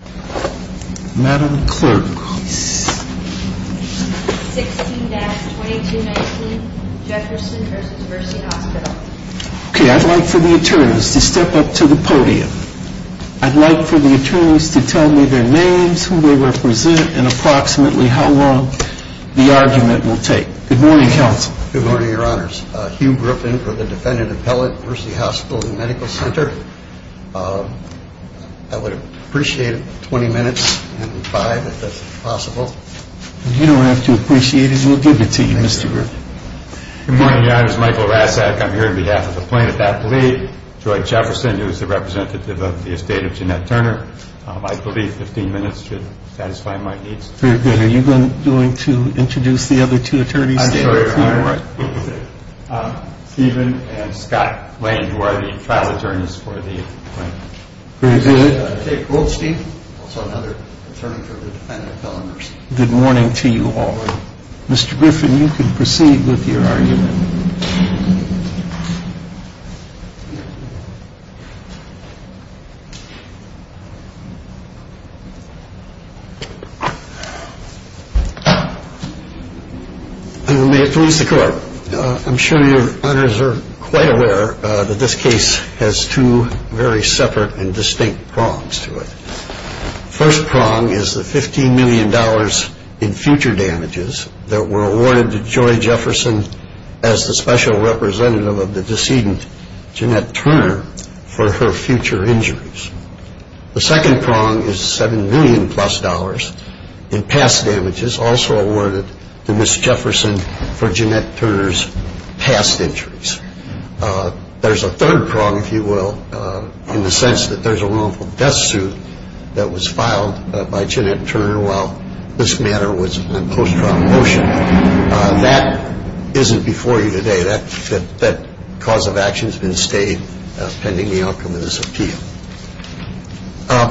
I would like for the attorneys to step up to the podium. I'd like for the attorneys to tell me their names, who they represent, and approximately how long the argument will take. Good morning, counsel. Good morning, your honors. Hugh Griffin for the defendant appellate, Mercy Hospital and Medical Center. I would appreciate 20 minutes, maybe five, if that's possible. You don't have to appreciate it, we'll give it to you, Mr. Griffin. Good morning, your honors. Michael Razack, I'm here on behalf of the plaintiff's athlete, Joy Jefferson, who is the representative of the estate of Jeanette Turner. I believe 15 minutes should satisfy my needs. Are you going to introduce the other two attorneys? I'm sorry, your honors. Stephen and Scott Lane, who are the trial attorneys for the plaintiff. Okay, cool, Steve. Good morning to you all. Mr. Griffin, you can proceed with your argument. May it please the court. I'm sure your honors are quite aware that this case has two very separate and distinct prongs to it. The first prong is the $15 million in future damages that were awarded to Joy Jefferson as the special representative of the decedent, Jeanette Turner, for her future injuries. The second prong is $7 million plus in past damages also awarded to Ms. Jefferson for Jeanette Turner's past injuries. There's a third prong, if you will, in the sense that there's a wrongful death suit that was filed by Jeanette Turner while this matter was in post-trial motion. That isn't before you today. That cause of action has been stated pending the ultimate appeal.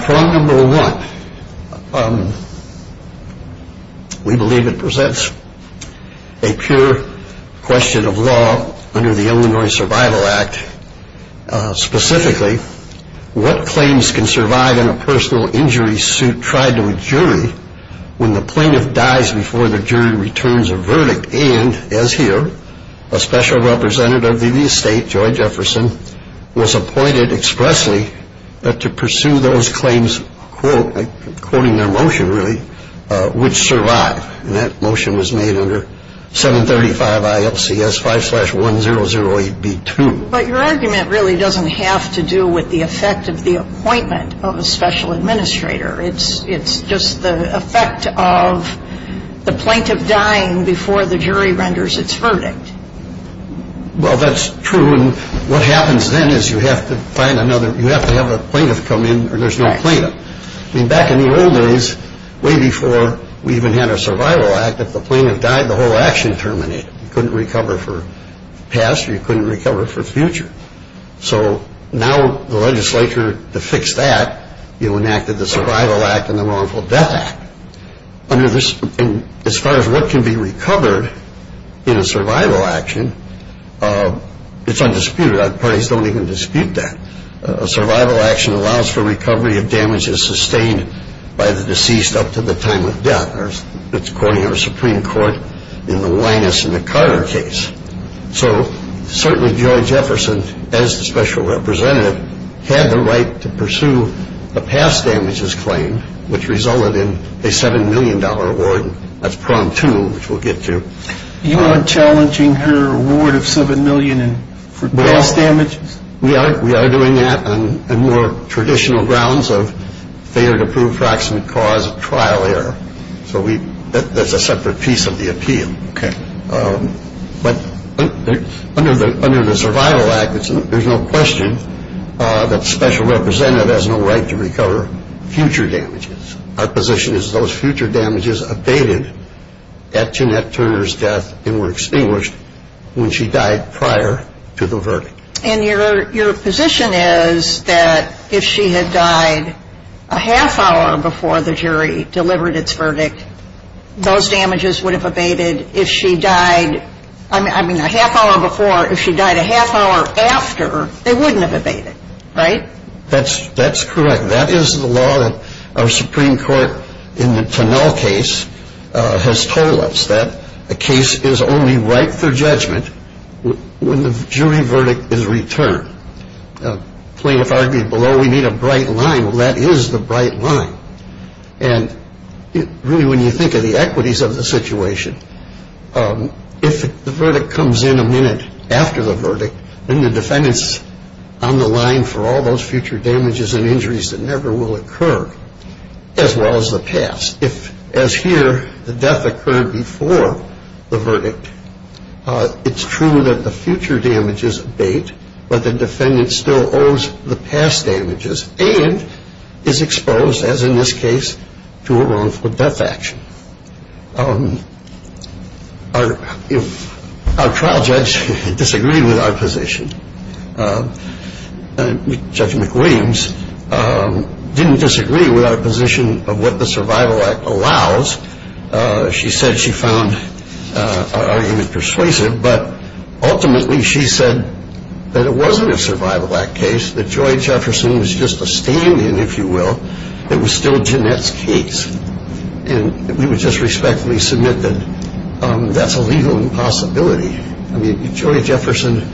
Prong number one, we believe it presents a pure question of law under the Illinois Survival Act. Specifically, what claims can survive in a personal injury suit tried to a jury when the plaintiff dies before the jury returns a verdict? And, as here, a special representative of the estate, Joy Jefferson, was appointed expressly to pursue those claims, quoting their motion, which survive. And that motion was made under 735 IFCS 5-1008B2. But your argument really doesn't have to do with the effect of the appointment of a special administrator. It's just the effect of the plaintiff dying before the jury renders its verdict. Well, that's true. What happens then is you have to have a plaintiff come in or there's no plaintiff. Back in the old days, way before we even had a survival act, if the plaintiff died, the whole action terminated. You couldn't recover for past or you couldn't recover for future. So, now the legislature, to fix that, enacted the Survival Act and the Wrongful Death Act. As far as what can be recovered in a survival action, it's undisputed. Parties don't even dispute that. A survival action allows for recovery of damages sustained by the deceased up to the time of death. That's according to the Supreme Court in the Wyness and the Carter case. So, certainly, Joy Jefferson, as the special representative, had the right to pursue a past damages claim, which resulted in a $7 million award. That's prompt two, which we'll get to. You aren't challenging her award of $7 million for past damages? Yeah, we are doing that on more traditional grounds of failure to prove facts and cause a trial error. So, that's a separate piece of the appeal. Okay. But under the Survival Act, there's no question that the special representative has no right to recover future damages. Our position is those future damages abated at Jeanette Turner's death and were extinguished when she died prior to the verdict. And your position is that if she had died a half hour before the jury delivered its verdict, those damages would have abated. If she died a half hour after, they wouldn't have abated, right? That's correct. That is the law that our Supreme Court, in the Tunnell case, has told us, that a case is only right for judgment when the jury verdict is returned. Plaintiff argued below, we need a bright line. Well, that is the bright line. And really, when you think of the equities of the situation, if the verdict comes in a minute after the verdict, then the defendant's on the line for all those future damages and injuries that never will occur, as well as the past. If, as here, the death occurred before the verdict, it's true that the future damages abate, but the defendant still owes the past damages and is exposed, as in this case, to a wrongful death action. Our trial judge disagreed with our position. Judge McWilliams didn't disagree with our position of what the Survival Act allows. She said she found our argument persuasive, but ultimately she said that it wasn't a Survival Act case, that Joy Jefferson was just a stand-in, if you will, that was still Jeanette's case. And we would just respectfully submit that that's a legal impossibility. I mean, Joy Jefferson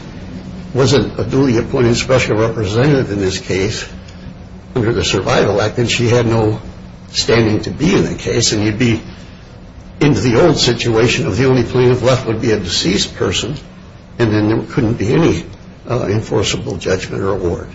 wasn't a duly appointed special representative in this case under the Survival Act, and she had no standing to be in the case. And you'd be in the old situation of the only plaintiff left would be a deceased person, and then there couldn't be any enforceable judgment or award.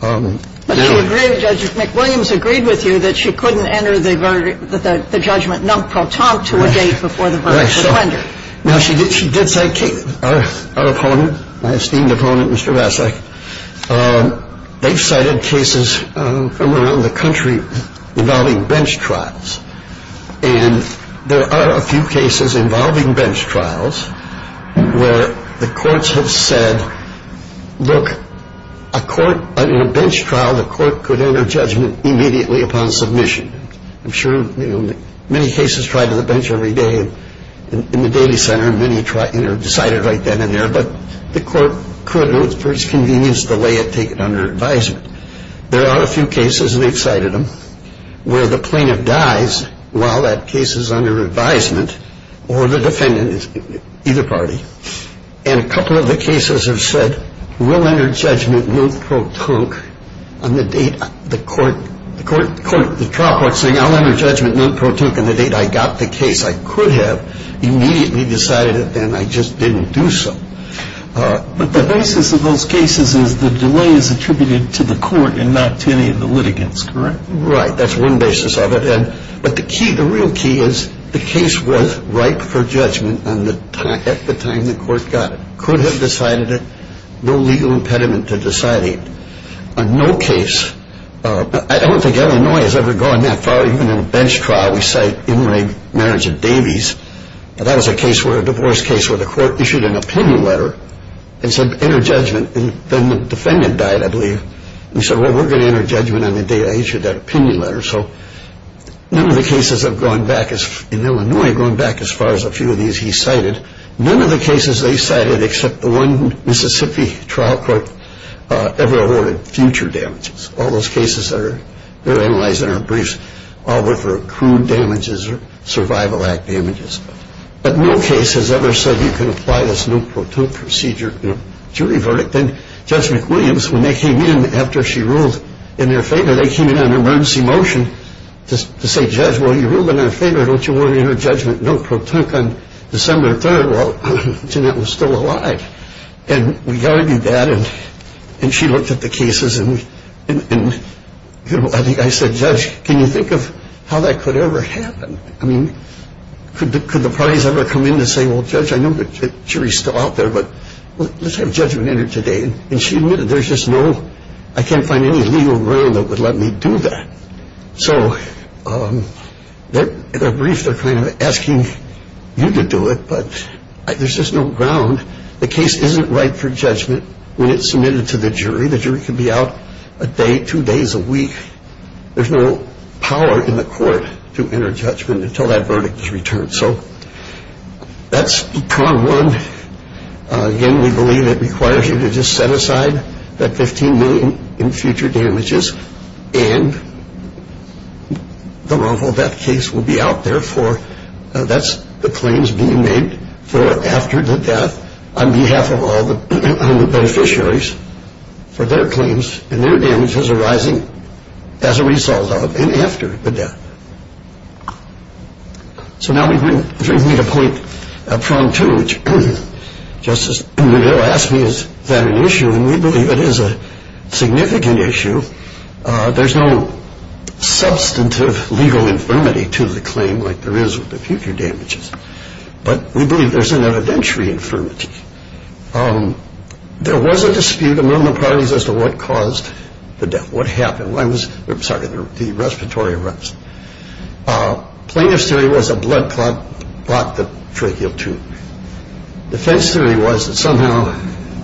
But she agreed, Judge McWilliams agreed with you, that she couldn't enter the verdict, the judgment non-pro tempore to a date before the verdict was rendered. Now she did cite our opponent, my esteemed opponent, Mr. Vasek. They cited cases from around the country involving bench trials. And there are a few cases involving bench trials where the courts have said, look, in a bench trial, the court could enter judgment immediately upon submission. I'm sure many cases tried on the bench every day in the daily center, and many decided right then and there, but the court could, for its convenience, delay it, take it under advisement. There are a few cases, and they cited them, where the plaintiff dies while that case is under advisement, or the defendant is, either party. And a couple of the cases have said, we'll enter judgment non-pro tempore on the date the court, the court, the court, the cop likes to say, I'll enter judgment non-pro tempore on the date I got the case. I could have immediately decided it, and I just didn't do so. But the basis of those cases is the delay is attributed to the court and not to any of the litigants, correct? Right, that's one basis of it. But the key, the real key is the case was right for judgment at the time the court got it. Could have decided it, no legal impediment to deciding it. On no case, I don't think Illinois has ever gone that far. Even in a bench trial, we cite inlaid marriage of Davies. That was a case where, a divorce case, where the court issued an opinion letter, and said enter judgment, and then the defendant died, I believe, and said, well, we're going to enter judgment on the day I issued that opinion letter. So, none of the cases have gone back, in Illinois, gone back as far as a few of these he cited. None of the cases they cited except the one Mississippi trial court ever awarded future damages. All those cases that are analyzed in our briefs, all of them were crude damages or survival act damages. But no case has ever said you can apply this noot pro toot procedure in a jury verdict. Then Judge McWilliams, when they came in after she ruled in their favor, they came in on an emergency motion to say, Judge, well, you ruled in their favor, don't you want to enter judgment noot pro toot on December 3rd while Jeanette was still alive. And we argued that, and she looked at the cases, and I said, Judge, can you think of how that could ever happen? I mean, could the parties ever come in and say, well, Judge, I know the jury's still out there, but let's have judgment entered today. And she knew that there's just no, I can't find any legal ground that would let me do that. So in our brief, they're kind of asking you to do it, but there's just no ground. The case isn't right for judgment when it's submitted to the jury. The jury can be out a day, two days, a week. There's no power in the court to enter judgment until that verdict is returned. So that's prong one. Again, we believe it requires you to just set aside that $15 million in future damages and the model of that case will be out there. That's the claims being made for after the death on behalf of all the beneficiaries for their claims and their damages arising as a result of it and after the death. So now we do need a point of prong two, which Justice O'Neill asked me is that an issue, and we believe it is a significant issue. There's no substantive legal infirmity to the claim like there is with the future damages, but we believe there's an evidentiary infirmity. There was a dispute among the parties as to what caused the death, what happened. One was the respiratory arrest. Plaintiff's theory was a blood clot brought the trachea to. The defense theory was that somehow,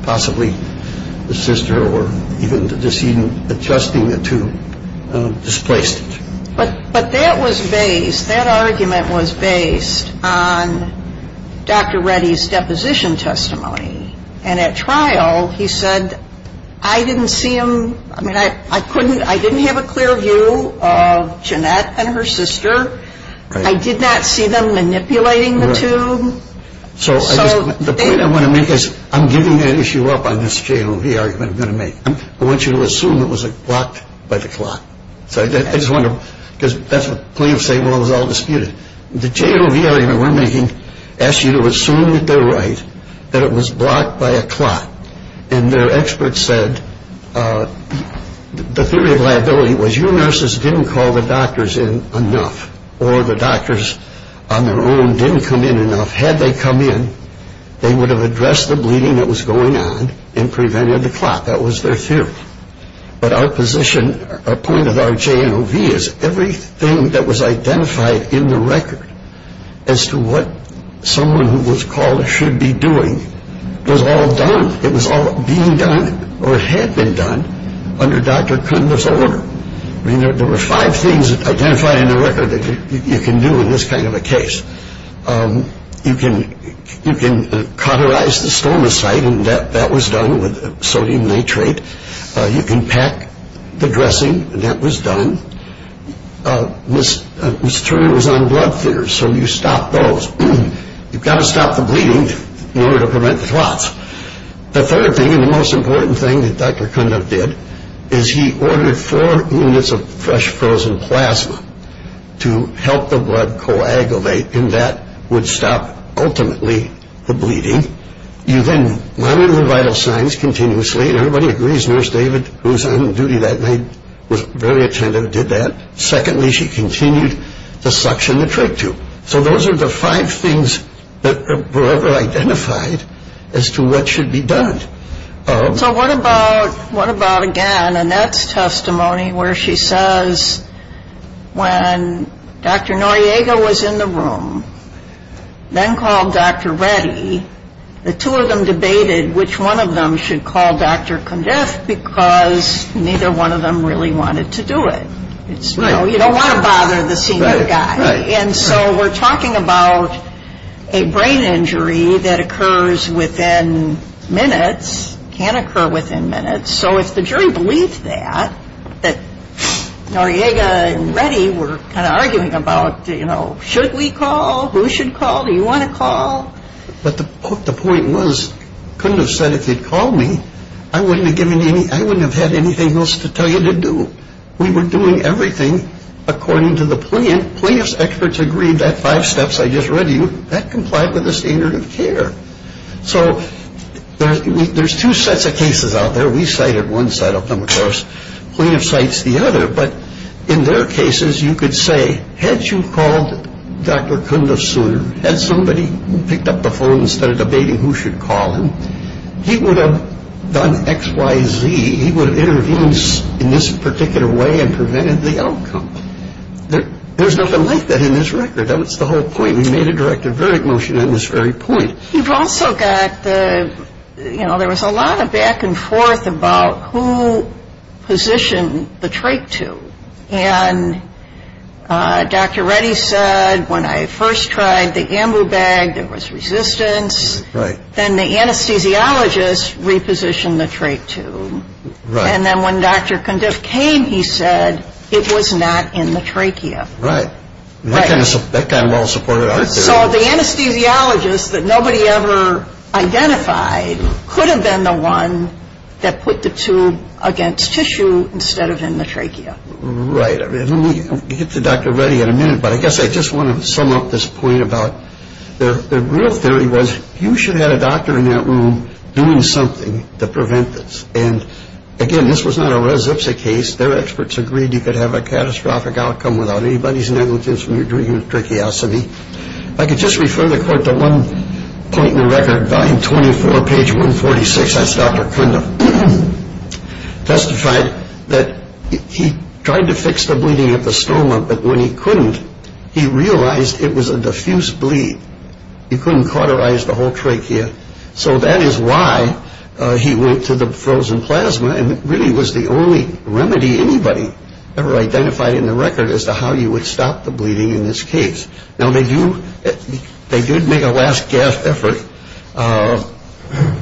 possibly, the sister or even the decision adjusting it to displaced it. But that was based, that argument was based on Dr. Reddy's deposition testimony, and at trial he said, I didn't see him, I mean, I didn't have a clear view of Jeanette and her sister. I did not see them manipulating the two. So the point I want to make is I'm giving the issue up on this JLV argument I'm going to make. I want you to assume it was blocked by the clot. I just want to, because that's the point of saying it was all disputed. The JLV argument we're making asks you to assume with their right that it was blocked by a clot, and their experts said the theory of liability was your nurses didn't call the doctors in enough, or the doctors on their own didn't come in enough. Had they come in, they would have addressed the bleeding that was going on and prevented the clot. That was their theory. But our position, our point of our JLV is everything that was identified in the record as to what someone who was called should be doing was all done. It was all being done or had been done under Dr. Kuhn's order. I mean, there were five things identified in the record that you can do in this kind of a case. You can cauterize the stomacite, and that was done with sodium nitrate. You can pack the dressing, and that was done. This term was on blood thinners, so you stop those. You've got to stop the bleeding in order to prevent the clot. The third thing, and the most important thing that Dr. Kuhn did, is he ordered four units of fresh frozen plasma to help the blood coagulate, and that would stop ultimately the bleeding. You then monitor the vital signs continuously, and everybody agrees, because Nurse David, who was on duty that night, was very attentive and did that. Secondly, she continued the suction and the tracheo. So those are the five things that were identified as to what should be done. So what about, again, Annette's testimony where she says, when Dr. Noyega was in the room, then called Dr. Reddy, the two of them debated which one of them should call Dr. Kuhn because neither one of them really wanted to do it. You don't want to bother the senior guy, and so we're talking about a brain injury that occurs within minutes, can occur within minutes. So if the jury believes that, that Noyega and Reddy were kind of arguing about, but the point was, couldn't have said if they'd called me, I wouldn't have had anything else to tell you to do. We were doing everything according to the plaintiff. Plaintiff's experts agreed that five steps I just read to you, that complied with the standard of care. So there's two sets of cases out there. We cited one set of them, of course. Plaintiff cites the other, but in their cases, you could say, had you called Dr. Kuhn sooner, had somebody picked up the phone instead of debating who should call him, he would have done X, Y, Z, he would have intervened in this particular way and prevented the outcome. There's nothing like that in this record. That was the whole point. We made a direct a verdict motion on this very point. You've also got the, you know, there was a lot of back and forth about who positioned the trait to, and Dr. Reddy said, when I first tried the ambu bag, there was resistance. Then the anesthesiologist repositioned the trait to, and then when Dr. Kuhn just came, he said it was not in the trachea. Right. That kind of supported our case. So the anesthesiologist that nobody ever identified could have been the one that put the tube against tissue instead of in the trachea. Right. Let me get to Dr. Reddy in a minute, but I guess I just want to sum up this point about the real theory was, you should have a doctor in that room doing something to prevent this. And, again, this was not a Rez Ipsa case. Their experts agreed you could have a catastrophic outcome without anybody's negligence when you're treating a tracheotomy. I could just refer the court to one point in the record, 924, page 146. That's Dr. Kuhn that testified that he tried to fix the bleeding at the stoma, but when he couldn't, he realized it was a diffuse bleed. He couldn't cauterize the whole trachea. So that is why he went to the frozen plasma, and it really was the only remedy anybody ever identified in the record as to how you would stop the bleeding in this case. Now, they did make a last gasp effort,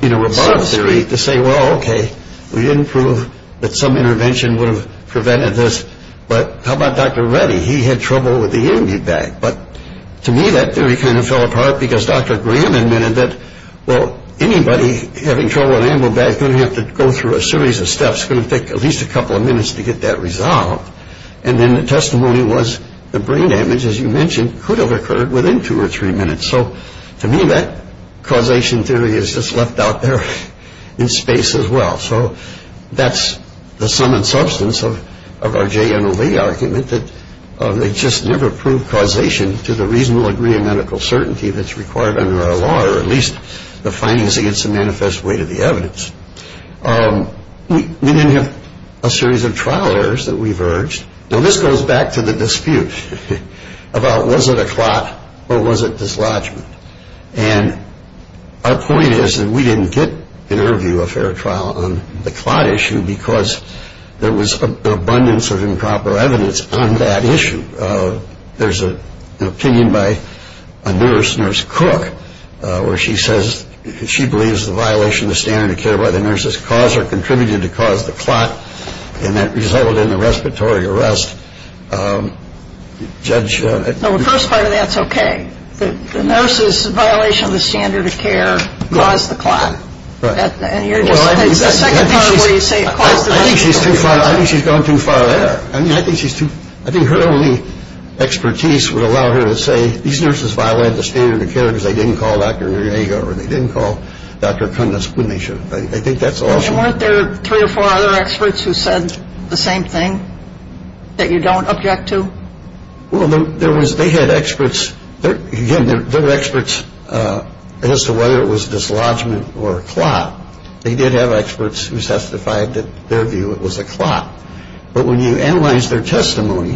you know, a bottom theory to say, well, okay, we didn't prove that some intervention would have prevented this, but how about Dr. Reddy? He had trouble with the IV bag, but to me that theory kind of fell apart because Dr. Graham admitted that, well, anybody having trouble with an IV bag is going to have to go through a series of steps. It's going to take at least a couple of minutes to get that resolved. And then the testimony was the brain damage, as you mentioned, could have occurred within two or three minutes. So to me that causation theory is just left out there in space as well. So that's the sum and substance of our JMOV argument, that they just never proved causation to the reasonable degree of medical certainty that's required under our law, or at least the findings against the manifest weight of the evidence. We didn't have a series of trial errors that we've urged. So this goes back to the dispute about was it a clot or was it dislodgement? And our point is that we didn't get an interview or a fair trial on the clot issue because there was an abundance of improper evidence on that issue. She says she believes the violation of the standard of care by the nurses contributed to cause the clot and that resulted in a respiratory arrest. Judge? Well, first of all, that's okay. The nurses' violation of the standard of care caused the clot. I think she's gone too far there. I think her only expertise would allow her to say these nurses violated the standard of care because they didn't call Dr. Greger or they didn't call Dr. Prentice when they should have. I think that's all she wants. Weren't there three or four other experts who said the same thing that you don't object to? Well, they had experts. Again, they were experts as to whether it was a dislodgement or a clot. They did have experts who testified that their view was a clot. But when you analyze their testimony,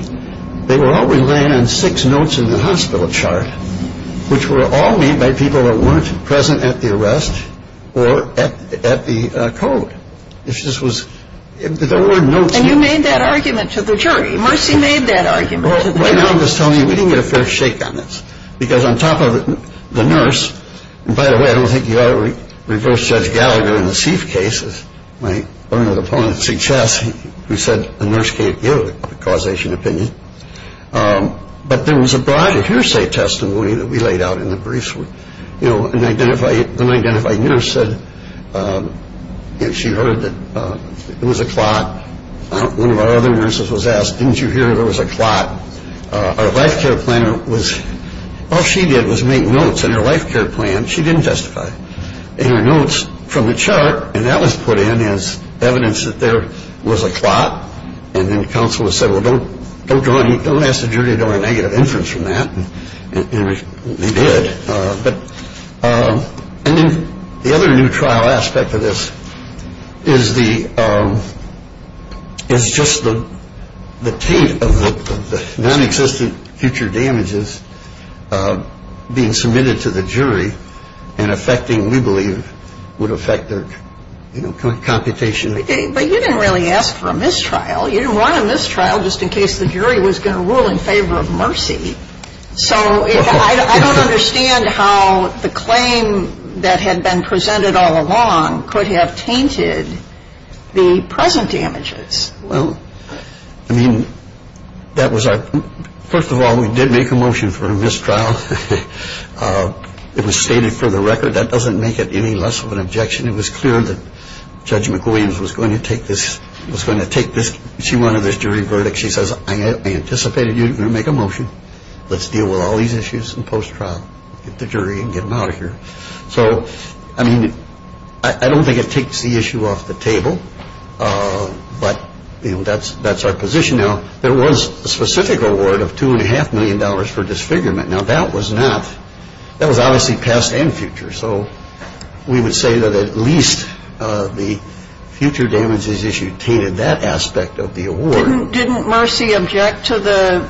they were only laying on six notes in the hospital chart, which were all made by people that weren't present at the arrest or at the code. And you made that argument to the jury. You must have made that argument. Well, what I'm just telling you, we didn't get a fair shake on this because on top of it, the nurse, and by the way, I don't think you ought to reverse Judge Gallagher in the Sieff case when he learned of the opponent's success. He said the nurse can't give a causation opinion. But there was a broader hearsay testimony that we laid out in the briefs. You know, an unidentified nurse said she heard that it was a clot. One of our other nurses was asked, didn't you hear that it was a clot? Our life care planner was, all she did was make notes in her life care plan. She didn't testify. And her notes from the chart, and that was put in as evidence that there was a clot. And then the counsel said, well, don't ask the jury to draw a negative inference from that. And we did. And then the other neutral aspect of this is just the taint of the non-existent future damages being submitted to the jury and affecting, we believe, would affect their computation. But you didn't really ask for a mistrial. You didn't want a mistrial just in case the jury was going to rule in favor of Mercy. So I don't understand how the claim that had been presented all along could have tainted the present damages. Well, I mean, first of all, we did make a motion for a mistrial. It was stated for the record. That doesn't make it any less of an objection. It was clear that Judge McWilliams was going to take this. She wanted this jury verdict. She says, I anticipated you were going to make a motion. Let's deal with all these issues in post-trial. Get the jury and get them out of here. So, I mean, I don't think it takes the issue off the table. But, you know, that's our position now. There was a specific award of $2.5 million for disfigurement. Now that was not, that was obviously past and future. So we would say that at least the future damages issue tainted that aspect of the award. Didn't Mercy object to the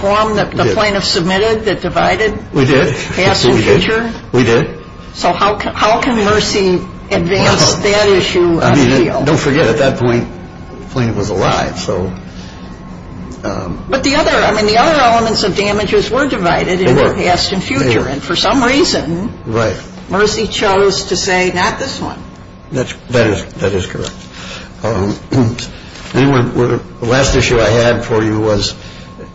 form that the plaintiff submitted that divided past and future? We did. We did. So how can Mercy advance that issue? Don't forget, at that point, the plaintiff was alive. But the other elements of damages were divided into past and future. And for some reason, Mercy chose to say not this one. That is correct. The last issue I had for you was,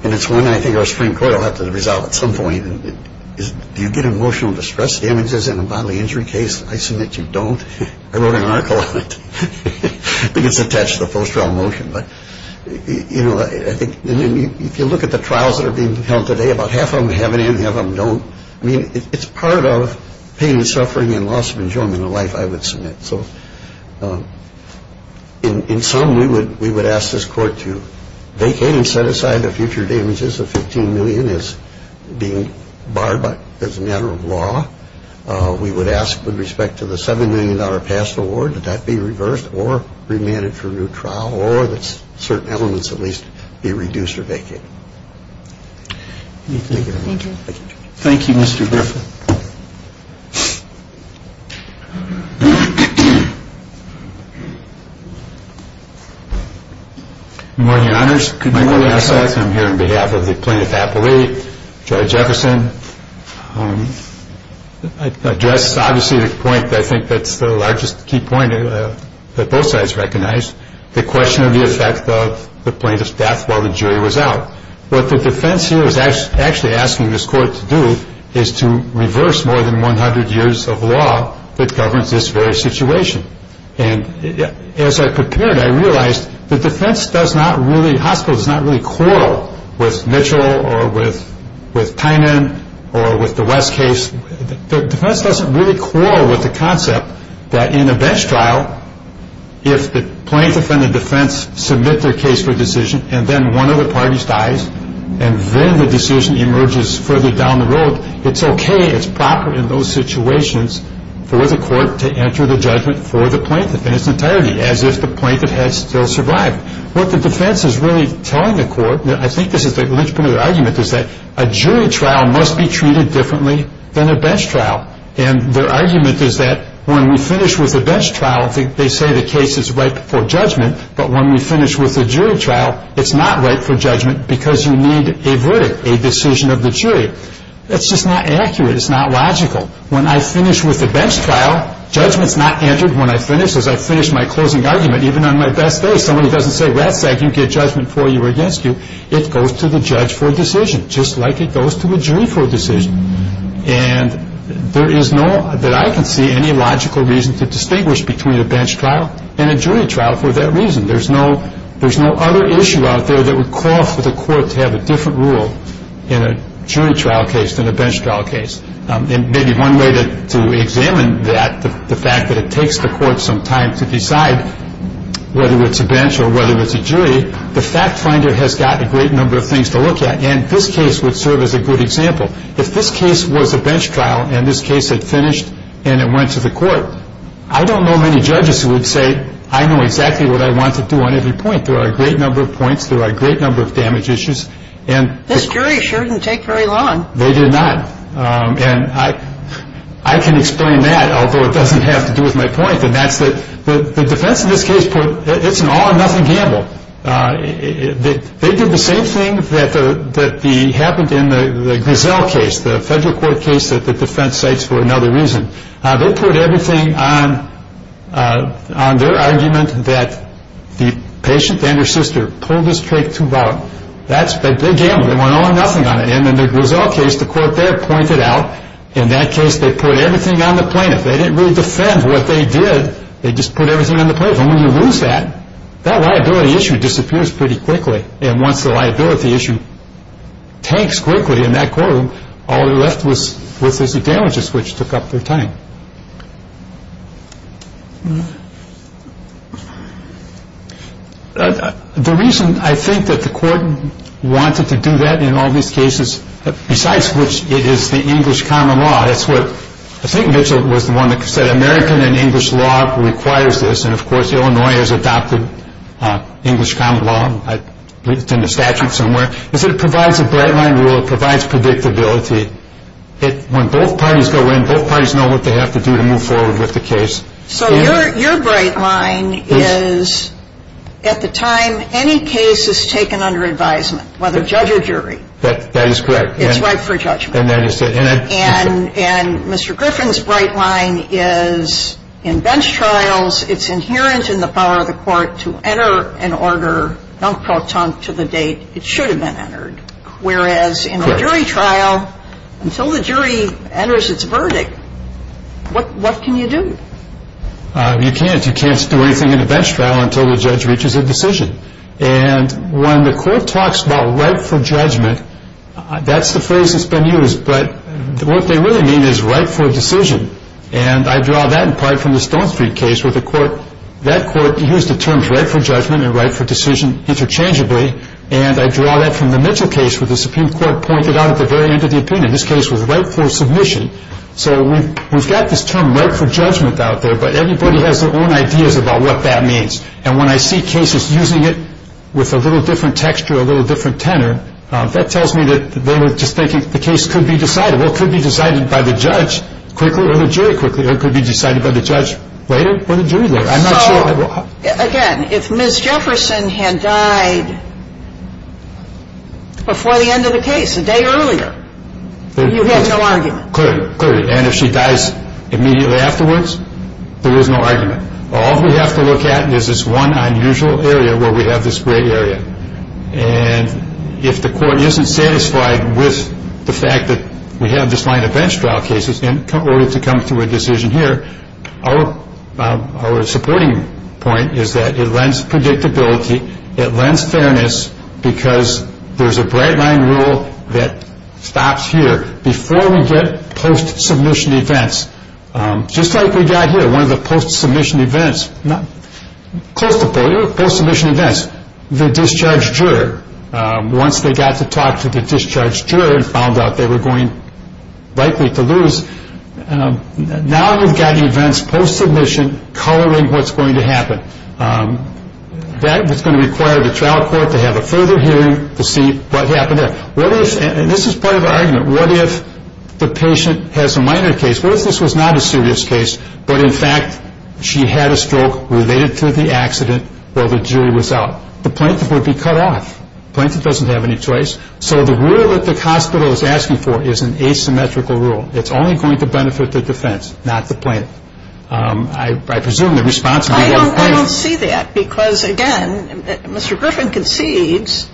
and it's one I think our Supreme Court will have to resolve at some point, is if you get a motion to stress damages in a bodily injury case, I submit you don't. I wrote an article on it. It's attached to the first trial motion. You can look at the trials that are being held today. About half of them have it in. Half of them don't. I mean, it's part of pain and suffering and loss of enjoyment of life I would submit. So in sum, we would ask this Court to vacate and set aside the future damages of $15 million as being barred by, as a matter of law. We would ask with respect to the $7 million past award, that that be reversed or remanded for a new trial, or that certain elements at least be reduced or vacated. Thank you. Thank you, Mr. Griffin. Good morning, Your Honors. Good morning, Your Honor. I'm here on behalf of the plaintiff's athlete, Judge Jefferson. I'd like to address, obviously, the point that I think that's the largest key point that both sides recognize, the question of the effect of the plaintiff's death while the jury was out. What the defense here is actually asking this Court to do is to reverse more than 100 years of law that governs this very situation. And as I prepared, I realized the defense does not really hustle, does not really quarrel with Mitchell or with Tynan or with the West case. The defense doesn't really quarrel with the concept that in the best trial, if the plaintiff and the defense submit their case for decision, and then one of the parties dies, and then the decision emerges further down the road, it's okay, it's proper in those situations for the Court to enter the judgment for the plaintiff in its entirety, as is the plaintiff has still survived. What the defense is really telling the Court, and I think this is at least part of their argument, is that a jury trial must be treated differently than a bench trial. And their argument is that when we finish with the bench trial, they say the case is ripe for judgment, but when we finish with the jury trial, it's not ripe for judgment because you need a verdict, a decision of the jury. That's just not accurate. It's not logical. When I finish with the bench trial, judgment's not entered when I finish. As I finish my closing argument, even on my deathbed, even if somebody doesn't say, well, that's how you get judgment for you or against you, it goes to the judge for a decision, just like it goes to the jury for a decision. And there is no, that I can see, any logical reason to distinguish between a bench trial and a jury trial for that reason. There's no other issue out there that would cause for the Court to have a different rule in a jury trial case than a bench trial case. And maybe one way to examine that, the fact that it takes the Court some time to decide whether it's a bench or whether it's a jury, the fact finder has got a great number of things to look at, and this case would serve as a good example. If this case was a bench trial and this case had finished and it went to the Court, I don't know many judges who would say, I know exactly what I want to do on every point. There are a great number of points. There are a great number of damage issues. This jury sure didn't take very long. They did not. And I can explain that, although it doesn't have to do with my point, and that's that the defense in this case put, it's an all-or-nothing gamble. They did the same thing that happened in the Griselle case, the federal court case that the defense cites for another reason. They put everything on their argument that the patient and her sister pulled the straight tooth out. That's a big gamble. They went all-or-nothing on it, and in the Griselle case, the Court there pointed out, in that case they put everything on the plaintiff. They didn't really defend what they did. They just put everything on the plaintiff. And when you lose that, that liability issue disappears pretty quickly, and once the liability issue tanks quickly in that courtroom, all that's left is the damages, which took up their time. The reason I think that the Court wanted to do that in all these cases, besides which it is the English common law, I think Mitchell was the one that said American and English law requires this, and, of course, Illinois has adopted English common law. It's in the statute somewhere. But it provides a breadline rule. It provides predictability. When both parties go in, both parties know what they have to do to move forward with the case. So your breadline is, at the time any case is taken under advisement, whether judge or jury. That is correct. It's right for judgment. And that is correct. And Mr. Griffin's breadline is, in bench trials, it's inherent in the power of the Court to enter an order non pro tonto to the date it should have been entered, whereas in a jury trial, until the jury enters its verdict, what can you do? You can't. You can't do anything in a bench trial until the judge reaches a decision. And when the Court talks about right for judgment, that's the phrase that's been used. But what they really mean is right for a decision. And I draw that in part from the Stone Street case where the Court, that Court used the terms right for judgment and right for decision interchangeably, and I draw that from the Mitchell case where the Supreme Court pointed out at the very end of the opinion, this case was right for submission. So we've got this term right for judgment out there, but everybody has their own ideas about what that means. And when I see cases using it with a little different texture, a little different tenor, that tells me that they're just thinking the case could be decided. Well, it could be decided by the judge quickly or the jury quickly. It could be decided by the judge later or the jury later. Again, if Ms. Jefferson had died before the end of the case, a day earlier, you have no argument. Clearly, clearly. And if she dies immediately afterwards, there is no argument. All we have to look at is this one unusual area where we have this gray area. And if the Court isn't satisfied with the fact that we have this line of bench trial cases, in order to come to a decision here, our supporting point is that it lends predictability. It lends fairness because there's a bright-line rule that stops here. Before we get post-submission events, just like we got here, one of the post-submission events, close to four year post-submission events, the discharged juror, once they got to talk to the discharged juror and found out they were going likely to lose, now we've got events post-submission coloring what's going to happen. That is going to require the trial court to have a further hearing to see what happened there. And this is part of the argument. What if the patient has a minor case? What if this was not a serious case, but in fact she had a stroke related to the accident while the jury was out? The plaintiff would be cut off. The plaintiff doesn't have any choice. So the rule that the hospital is asking for is an asymmetrical rule. It's only going to benefit the defense, not the plaintiff. I presume the response might be the plaintiff. I don't see that because, again, Mr. Griffin concedes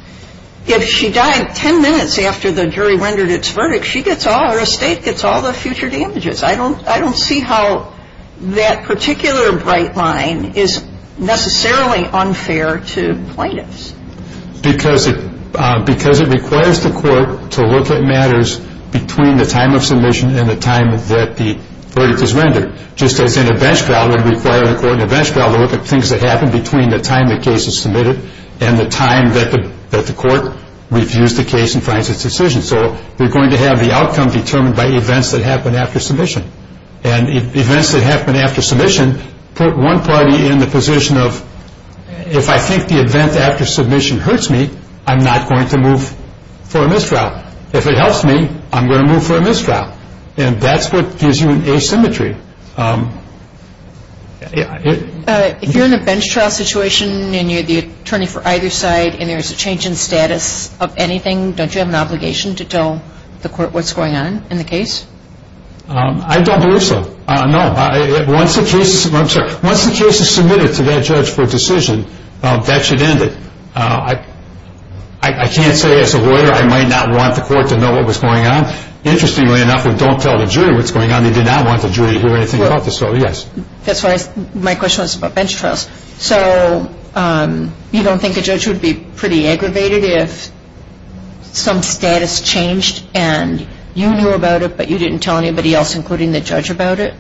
if she died ten minutes after the jury rendered its verdict, she gets all her estate, gets all the future damages. I don't see how that particular bright line is necessarily unfair to plaintiffs. Because it requires the court to look at matters between the time of submission and the time that the verdict is rendered. Just as an events trial would require a court in an events trial to look at things that happen between the time the case is submitted and the time that the court reviews the case and finds its decision. So we're going to have the outcome determined by events that happen after submission. And events that happen after submission put one party in the position of, if I think the event after submission hurts me, I'm not going to move for a missed trial. If it helps me, I'm going to move for a missed trial. And that's what gives you asymmetry. If you're in a bench trial situation and you're the attorney for either side and there's a change in status of anything, don't you have an obligation to tell the court what's going on in the case? I don't believe so. No. Once the case is submitted to that judge for a decision, that should end it. I can't say as a lawyer I might not want the court to know what was going on. Interestingly enough, we don't tell the jury what's going on. We do not want the jury to do anything about this. So, yes. My question was about bench trials. So, you don't think a judge would be pretty aggravated if some status changed and you knew about it but you didn't tell anybody else, including the judge, about it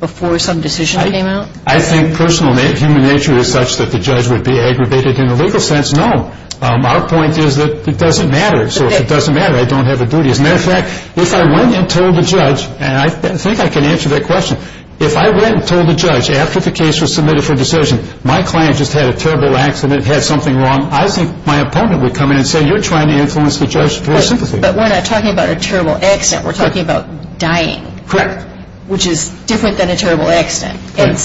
before some decision came out? I think personal human nature is such that the judge would be aggravated in a legal sense. No. Our point is that it doesn't matter. So, if it doesn't matter, I don't have a duty. As a matter of fact, if I went and told the judge, and I think I can answer that question, if I went and told the judge after the case was submitted for a decision, my client just had a terrible accident, had something wrong, I think my opponent would come in and say, you're trying to influence the judge's position. But we're not talking about a terrible accident. We're talking about dying. Correct. Which is different than a terrible accident. And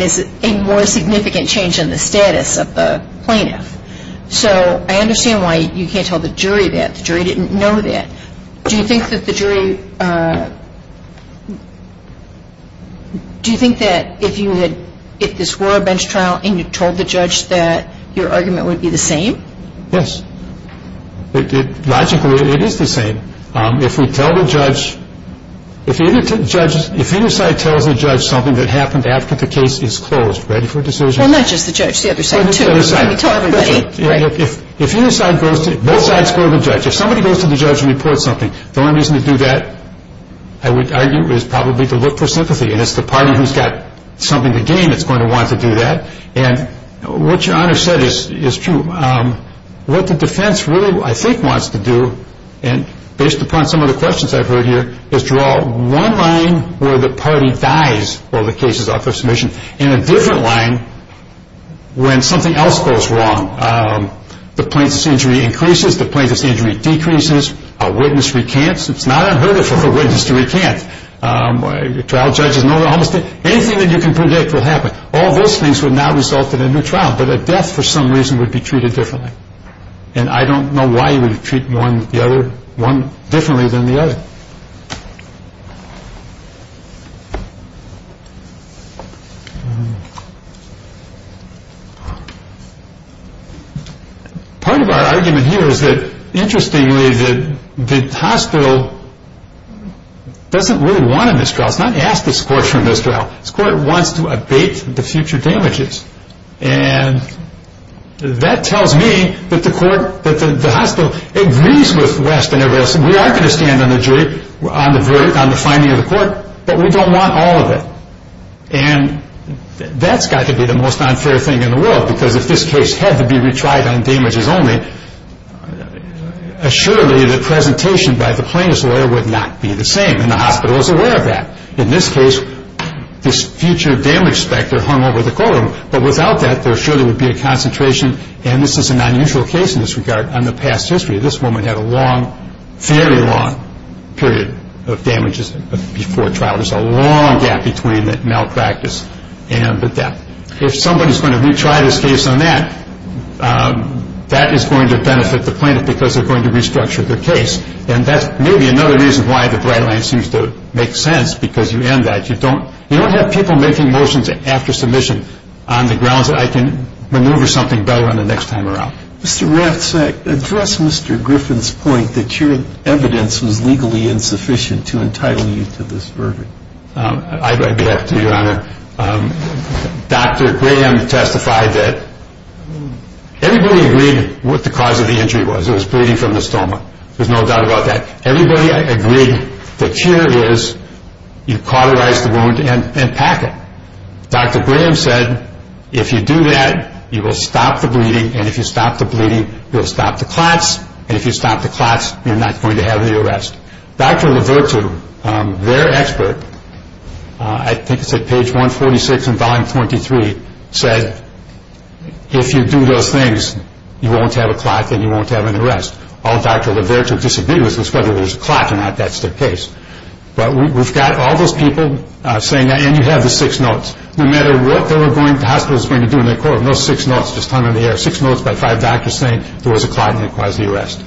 it's a more significant change in the status of the plaintiff. So, I understand why you can't tell the jury that. The jury didn't know that. Do you think that the jury – do you think that if this were a bench trial and you told the judge that your argument would be the same? Yes. Logically, it is the same. If we tell the judge – if either side tells the judge something that happened after the case is closed, ready for a decision – Well, not just the judge. The other side, too. If either side goes to – no side's heard the judge. If somebody goes to the judge and reports something, the only reason to do that, I would argue, is probably to look for sympathy. And it's the party who's got something to gain that's going to want to do that. And what your Honor said is true. What the defense really, I think, wants to do, and based upon some of the questions I've heard here, is draw one line where the party dies or the case is off the submission and a different line when something else goes wrong. The plaintiff's injury increases. The plaintiff's injury decreases. A witness recants. It's not unheard of for a witness to recant. A trial judge is no longer on the stand. Anything that you can predict will happen. All those things would now result in a new trial. But a death, for some reason, would be treated differently. And I don't know why you would treat one differently than the other. Part of our argument here is that, interestingly, the hospital doesn't really want a misdraught. It's not asking the court for a misdraught. The court wants to abate the future damages. And that tells me that the court, that the hospital, agrees with Weston and Wilson. We are going to stand on the jury, on the verdict, on the finding of the court, but we don't want all of it. And that's got to be the most unfair thing in the world because if this case had to be retried on damages only, assuredly the presentation by the plaintiff's lawyer would not be the same, and the hospital is aware of that. In this case, this future damage specter hung over the courtroom. But without that, there surely would be a concentration, and this is an unusual case in this regard, on the past history. This woman had a long, very long period of damages before trial. There's a long gap between the malpractice and the death. If somebody's going to retry this case on that, that is going to benefit the plaintiff because they're going to restructure their case. And that may be another reason why the dry line seems to make sense, because you end that. You don't have people making motions after submission on the grounds that I can maneuver something better the next time around. Mr. Graff, to address Mr. Griffin's point, that your evidence is legally insufficient to entitle you to this verdict, I'd be happy to do that, Your Honor. Dr. Graham testified that everybody agreed what the cause of the injury was. It was bleeding from the stoma. There's no doubt about that. Everybody agreed the cure is you cauterize the wound and pack it. Dr. Graham said if you do that, you will stop the bleeding, and if you stop the bleeding, you'll stop the clots, and if you stop the clots, you're not going to have any arrest. Dr. LaVirtue, their expert, I think it's at page 146 in volume 23, said, if you do those things, you won't have a clot and you won't have an arrest. All Dr. LaVirtue disagreed was because it was a clot and not that stick case. But we've got all those people saying that, and you have the six notes. No matter what they were going to do, the hospital was going to do, and they called it no six notes, just coming in the air, six notes by five doctors saying there was a clot and it caused the arrest.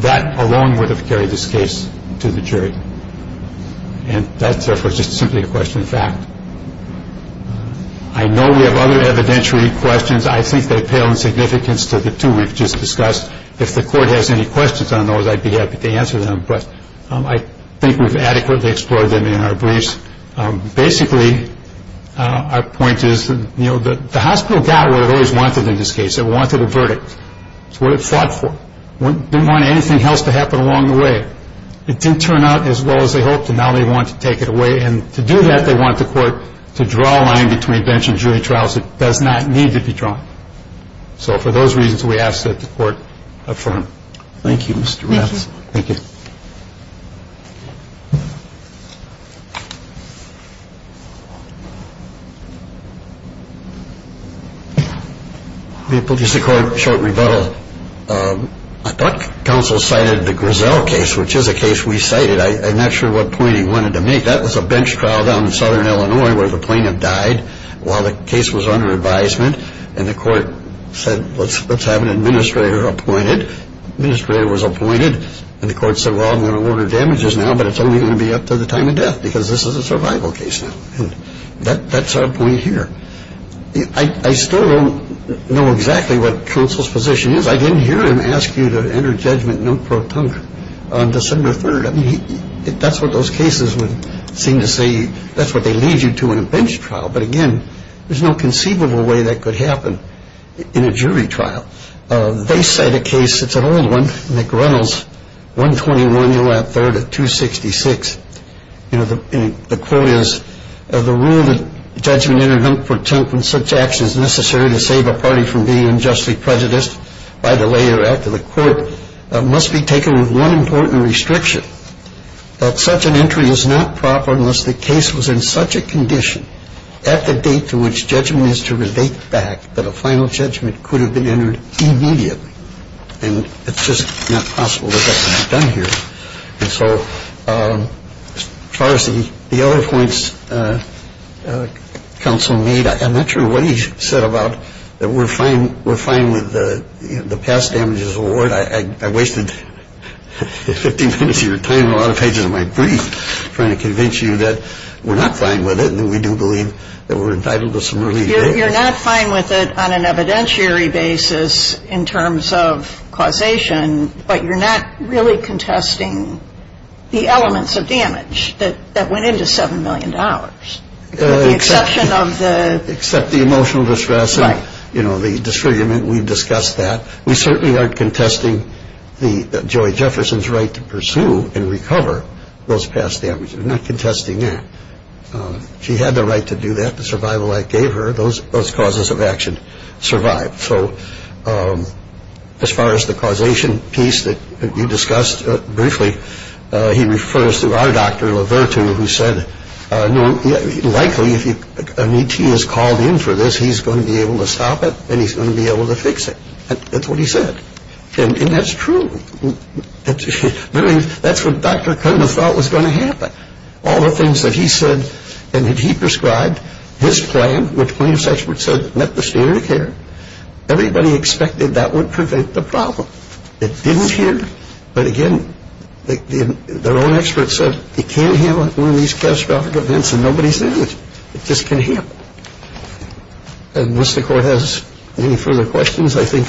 That alone would have carried this case to the jury, and that's just simply a question of fact. I know we have other evidentiary questions. I think they pale in significance to the two we've just discussed. If the court has any questions on those, I'd be happy to answer them, but I think we've adequately explored them in our briefs. Basically, our point is the hospital got what it always wanted in this case. It wanted a verdict. It's what it fought for. It didn't want anything else to happen along the way. It didn't turn out as well as they hoped, and now they want to take it away, and to do that, they want the court to draw a line between bench and jury trials. It does not need to be drawn. So for those reasons, we ask that the court affirm. Thank you, Mr. Rafferty. Thank you. I guess the court short and beveled. I thought counsel cited the Griselle case, which is a case we cited. I'm not sure what point he wanted to make. That was a bench trial down in southern Illinois where the plaintiff died while the case was under advisement, and the court said, let's have an administrator appointed. The administrator was appointed, and the court said, well, I'm going to order damages now, but it's only going to be up to the time of death because this is a survival case now. That's our point here. I still don't know exactly what counsel's position is. I didn't hear him ask you to enter a judgment note for a punk on December 3rd. That's what those cases would seem to say. That's what they lead you to in a bench trial. But, again, there's no conceivable way that could happen in a jury trial. They cite a case. It's an old one from McReynolds, 121 U.S. 3rd at 266. The court is, the rule that judgment entered on 4-10th when such action is necessary to save a party from being unjustly prejudiced by the lay or act of the court must be taken with one important restriction, that such an entry is not proper unless the case was in such a condition at the date to which judgment is to relate back that a final judgment could have been entered immediately. And it's just not possible that that can be done here. So, the other points counsel made, I'm not sure what he said about that we're fine with the past damages award. I wasted 15 minutes of your time on a lot of pages of my brief trying to convince you that we're not fine with it and that we do believe that we're entitled to some relief. You're not fine with it on an evidentiary basis in terms of causation, but you're not really contesting the elements of damage that went into $7 million. Except the emotional distress and the disfigurement, we've discussed that. We certainly aren't contesting Joy Jefferson's right to pursue and recover those past damages. We're not contesting that. She had the right to do that, the survival act gave her, those causes of action survived. So, as far as the causation piece that you discussed briefly, he refers to our Dr. Lovertu who said, likely if an ET is called in for this, he's going to be able to stop it and he's going to be able to fix it. That's what he said. And that's true. That's what Dr. Kerman thought was going to happen. All the things that he said and that he prescribed, his claim, which many experts said met the standard of care, everybody expected that would prevent the problem. It didn't here, but again, their own experts said, it can't heal in these catastrophic events and nobody's in it. It just can't heal. Unless the court has any further questions, I think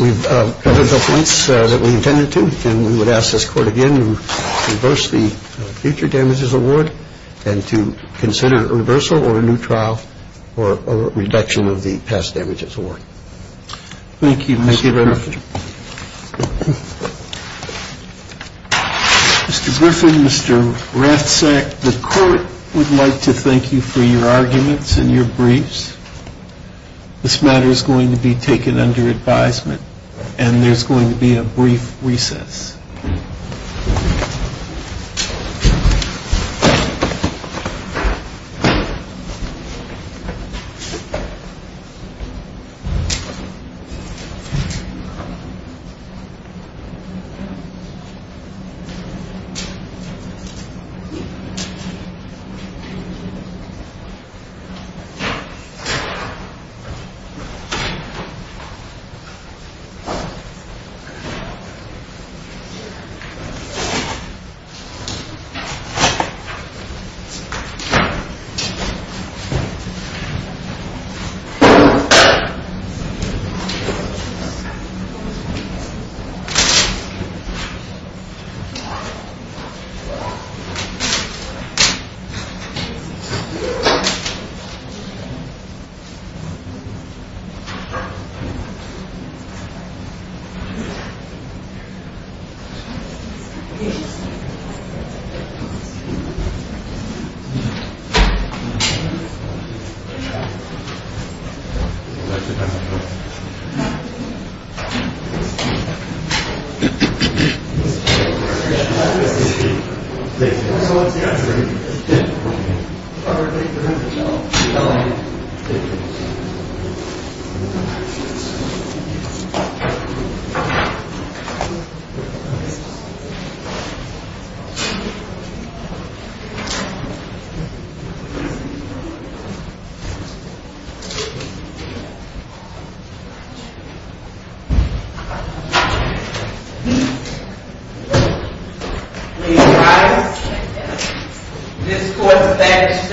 we've covered the piece that we intended to. And we would ask this court again to reverse the future damages award and to consider a reversal or a new trial or a reduction of the past damages award. Thank you, Mr. Renner. Mr. Grissom, Mr. Ratzak, the court would like to thank you for your arguments and your briefs. This matter is going to be taken under advisement and there's going to be a brief recess.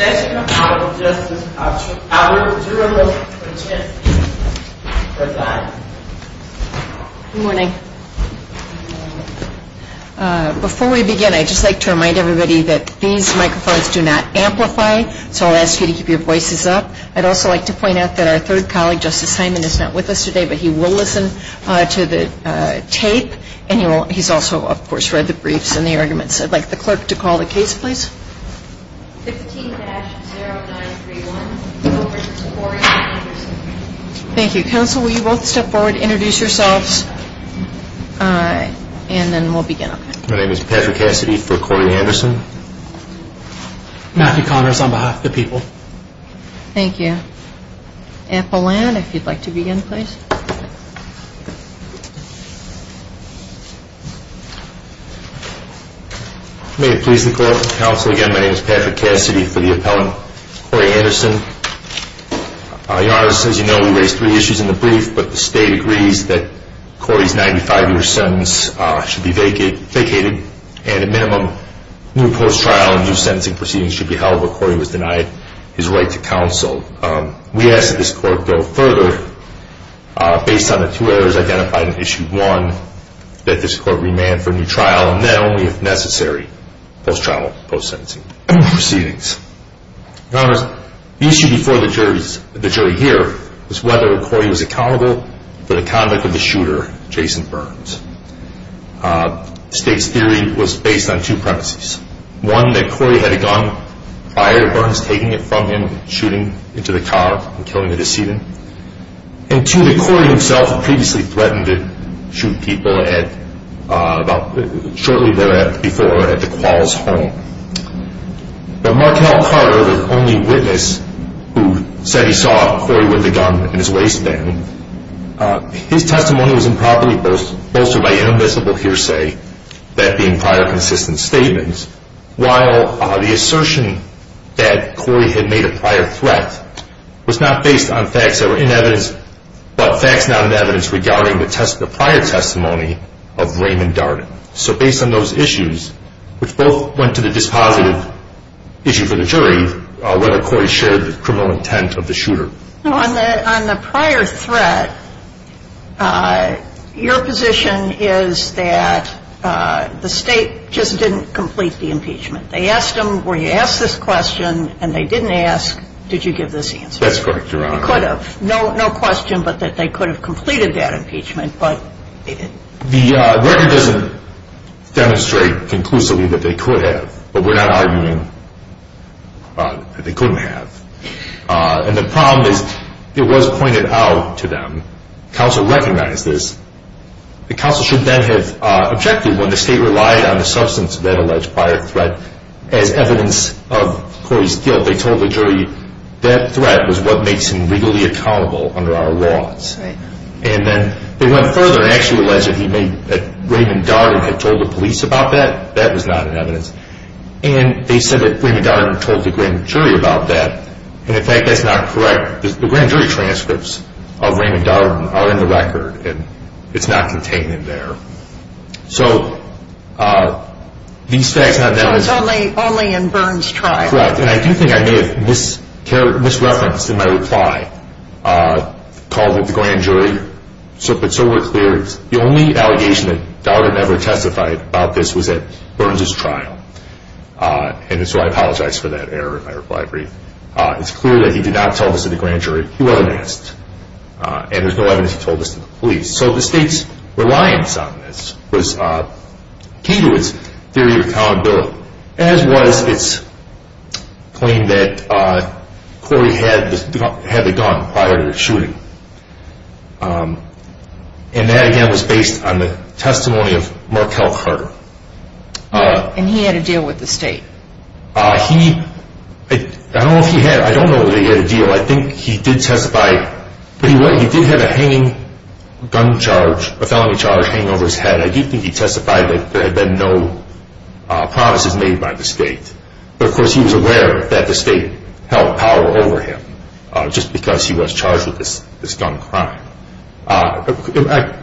Thank you. Thank you. Thank you. Thank you. Thank you. Thank you. Thank you. Thank you. Before we begin, I'd just like to remind everybody that these microphones do not amplify, so I'll ask you to keep your voices up. I'd also like to point out that our third colleague, Justice Hyman, is not with us today, but he will listen to the tape and he's also, of course, read the briefs and the arguments. I'd like the court to call the case, please. Thank you. Counsel, will you both step forward, introduce yourselves, and then we'll begin. My name is Patrick Cassidy for Corey Anderson. Matthew Connors on behalf of the people. Thank you. Apollon, if you'd like to begin, please. May it please be clear, Counsel, again, my name is Patrick Cassidy for the appellant, Corey Anderson. Your Honor, as you know, we raised three issues in the brief, but the state agrees that Corey's 95-year sentence should be vacated and a minimum new post-trial and new sentencing proceedings should be held where Corey was denied his right to counsel. We ask that this court go further based on the two errors identified in Issue 1, that this court remand for a new trial, and then only if necessary, post-trial and post-sentencing proceedings. Your Honor, the issue before the jury here is whether Corey was accountable for the conduct of the shooter, Jason Burns. The state's theory was based on two premises. One, that Corey had a gun, fired Burns, taking it from him, shooting into the car and killing the decedent. And two, that Corey himself had previously threatened to shoot people shortly before at the Koalas' home. The Martell prior was the only witness who said he saw Corey with a gun in his waistband. His testimony was improperly bolstered by inadmissible hearsay, that being prior consistent statements, while the assertion that Corey had made a prior threat was not based on facts that were in evidence, but facts not in evidence regarding the prior testimony of Raymond Dart. So based on those issues, which both went to the dispositive issue for the jury, whether Corey shared the criminal intent of the shooter. On the prior threat, your position is that the state just didn't complete the impeachment. They asked him, were you asked this question, and they didn't ask, did you give this answer. That's correct, Your Honor. Could have. No question but that they could have completed that impeachment, but they didn't. The record doesn't demonstrate conclusively that they could have, but we're not arguing that they couldn't have. And the problem is, it was pointed out to them, counsel recommended this. The counsel should then have objected when the state relied on the substance of that alleged prior threat as evidence of Corey's guilt. They told the jury that threat was what makes him legally accountable under our laws. And then they went further and actually alleged that Raymond Darden had told the police about that. That is not in evidence. And they said that Raymond Darden told the grand jury about that. And in fact, that's not correct. The grand jury transcripts of Raymond Darden are in the record, and it's not contained in there. So it's only in Burns' trial. That's correct. And I do think I made a misreference in my reply, called it the grand jury. But so we're clear, the only allegation that Darden ever testified about this was at Burns' trial. And so I apologize for that error if I replied briefly. It's clear that he did not tell this to the grand jury. He wasn't asked. And there's no evidence he told this to the police. So the state's reliance on this was key to his theory of accountability, as well as its claim that Corey had the gun prior to the shooting. And that, again, was based on the testimony of Markel Carter. And he had a deal with the state. He, I don't know if he had. I don't know that he had a deal. I think he did testify. He did have a hanging gun charge, a felony charge hanging over his head. I do think he testified that there had been no promises made by the state. But, of course, he was aware that the state held power over him just because he was charged with this gun crime.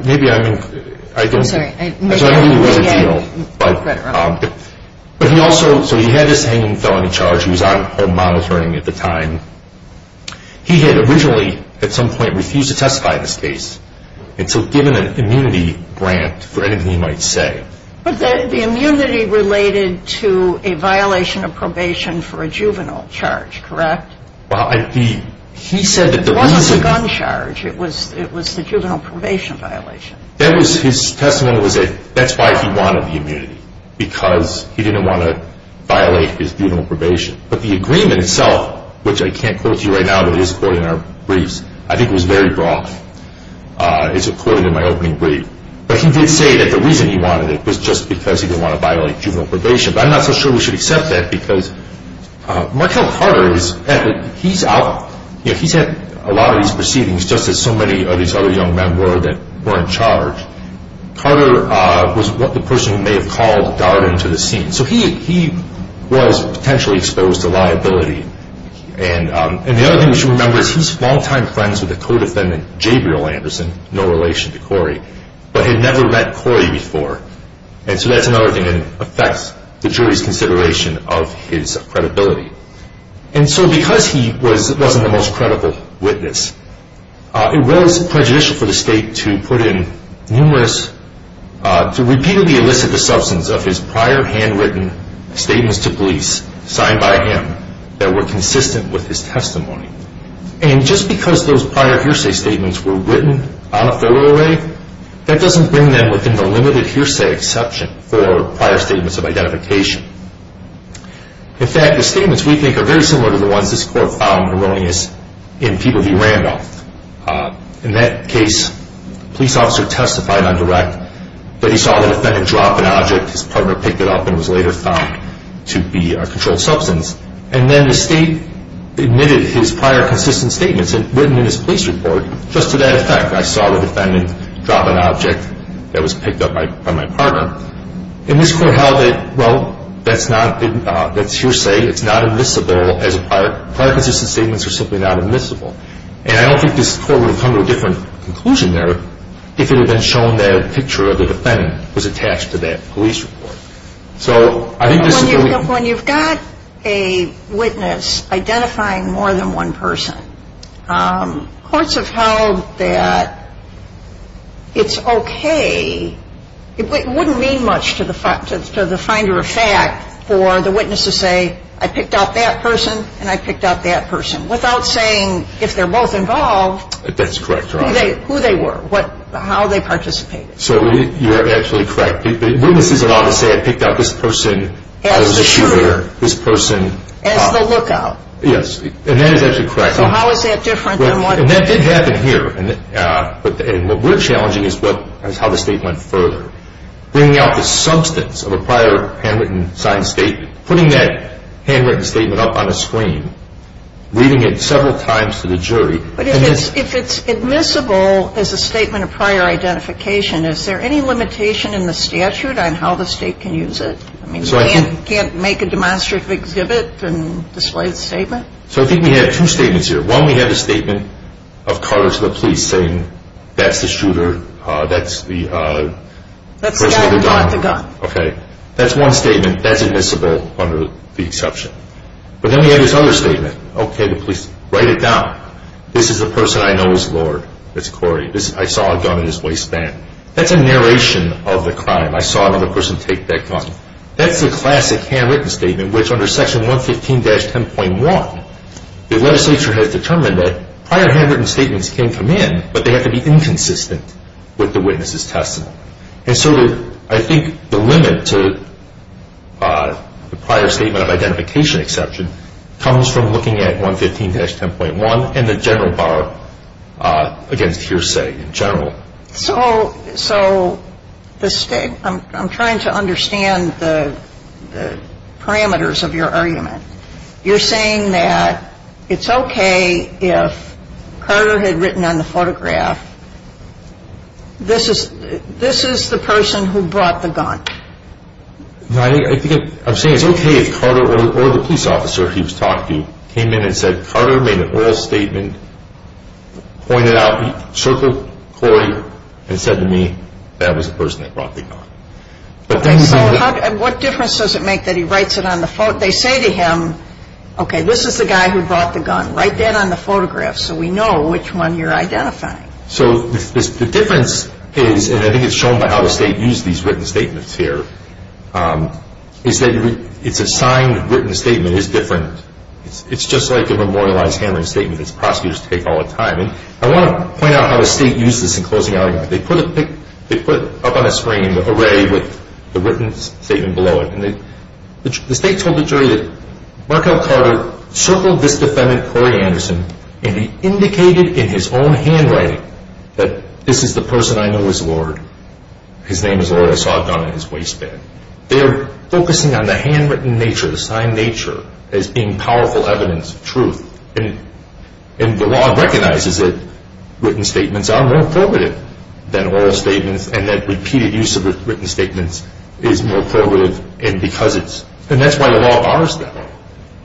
Maybe I don't. I don't know if he had a deal. But he also, so he had this hanging gun charge. He was out home monitoring at the time. He had originally at some point refused to testify to this case. And so given an immunity grant, for anything he might say. But the immunity related to a violation of probation for a juvenile charge, correct? Well, he said that the reason. It wasn't the gun charge. It was the juvenile probation violation. His testimony was that that's why he wanted the immunity. Because he didn't want to violate his juvenile probation. But the agreement itself, which I can't quote to you right now, but it is quoted in our briefs. I think it was very broad. It's recorded in my opening brief. But he did say that the reason he wanted it was just because he didn't want to violate juvenile probation. But I'm not so sure we should accept that. Because Markell Carter, he's out, he's had a lot of these proceedings. Just as so many of these other young men were that were in charge. Carter was what the person who may have called got him into the scene. So he was potentially exposed to liability. And the other thing we should remember is he was long-time friends with a co-defendant, Gabriel Anderson. No relation to Corey. But had never met Corey before. And so that's another thing that affects the jury's consideration of his credibility. And so because he wasn't the most credible witness, it was prejudicial for the state to put in numerous, to repeatedly elicit the substance of his prior handwritten statements to police signed by him that were consistent with his testimony. And just because those prior hearsay statements were written out that way, that doesn't bring them within the limited hearsay exception for prior statements of identification. In fact, the statements we make are very similar to the ones this court found erroneous in People v. Randolph. In that case, a police officer testified on direct that he saw the defendant drop an object. His partner picked it up and was later found to be a controlled substance. And then the state admitted his prior consistent statements written in his police report. Just to that effect, I saw the defendant drop an object that was picked up by my partner. In this court, how they, well, that's hearsay. It's not admissible as a part. Prior consistent statements are simply not admissible. And I don't think this court would have come to a different conclusion there if it had been shown that a picture of the defendant was attached to that police report. When you've got a witness identifying more than one person, courts have held that it's okay. It wouldn't mean much to the finder of fact for the witness to say, I picked up that person and I picked up that person. Without saying, if they're both involved, who they were, how they participated. So you're absolutely correct. The witness is allowed to say, I picked up this person. I was a shooter. This person. As a lookout. Yes. And that is actually correct. So how is that different from what? And that did happen here. And what we're challenging is how the state went further. Bringing out the substance of a prior handwritten, signed statement. Putting that handwritten statement up on a screen. Reading it several times to the jury. But if it's admissible as a statement of prior identification, is there any limitation in the statute on how the state can use it? You can't make a demonstrative exhibit and display the statement? So I think we have two statements here. One, we have a statement of Cartersville Police saying, that's the shooter. That's the gun. Okay. That's one statement. That's admissible under the exception. But then we have this other statement. Okay, the police. Write it down. This is the person I know is Lord. That's Corey. I saw a gun in his waistband. That's a narration of the crime. I saw another person take that gun. That's a classic handwritten statement, which under Section 115-10.1, the legislature has determined that prior handwritten statements can come in, but they have to be inconsistent with the witness's testimony. And so I think the limit to the prior statement of identification exception comes from looking at 115-10.1 and the general bar against hearsay in general. So I'm trying to understand the parameters of your argument. You're saying that it's okay if Carter had written on the photograph, this is the person who brought the gun. No, I think I'm saying it's okay if Carter or the police officer he was talking to came in and said, Carter made an oral statement, pointed out, circled Corey and said to me, that was the person that brought the gun. And what difference does it make that he writes it on the photograph? They say to him, okay, this is the guy who brought the gun. Write that on the photograph so we know which one you're identifying. So the difference is, and I think it's shown by how the State used these written statements here, is that it's a signed written statement. It's different. It's just like the memorialized handwritten statement that prosecutors take all the time. And I want to point out how the State used this in closing arguments. They put it up on a screen in an array with the written statement below it. The State told the jury that Markov Carter circled this defendant, Corey Anderson, and he indicated in his own handwriting that this is the person I know as Lord. His name is Oral Sodcom in his waistband. They're focusing on the handwritten nature, the signed nature, as being powerful evidence of truth. And the law recognizes that written statements are more probative than oral statements, and that repeated use of written statements is more probative. And that's why the law honors them.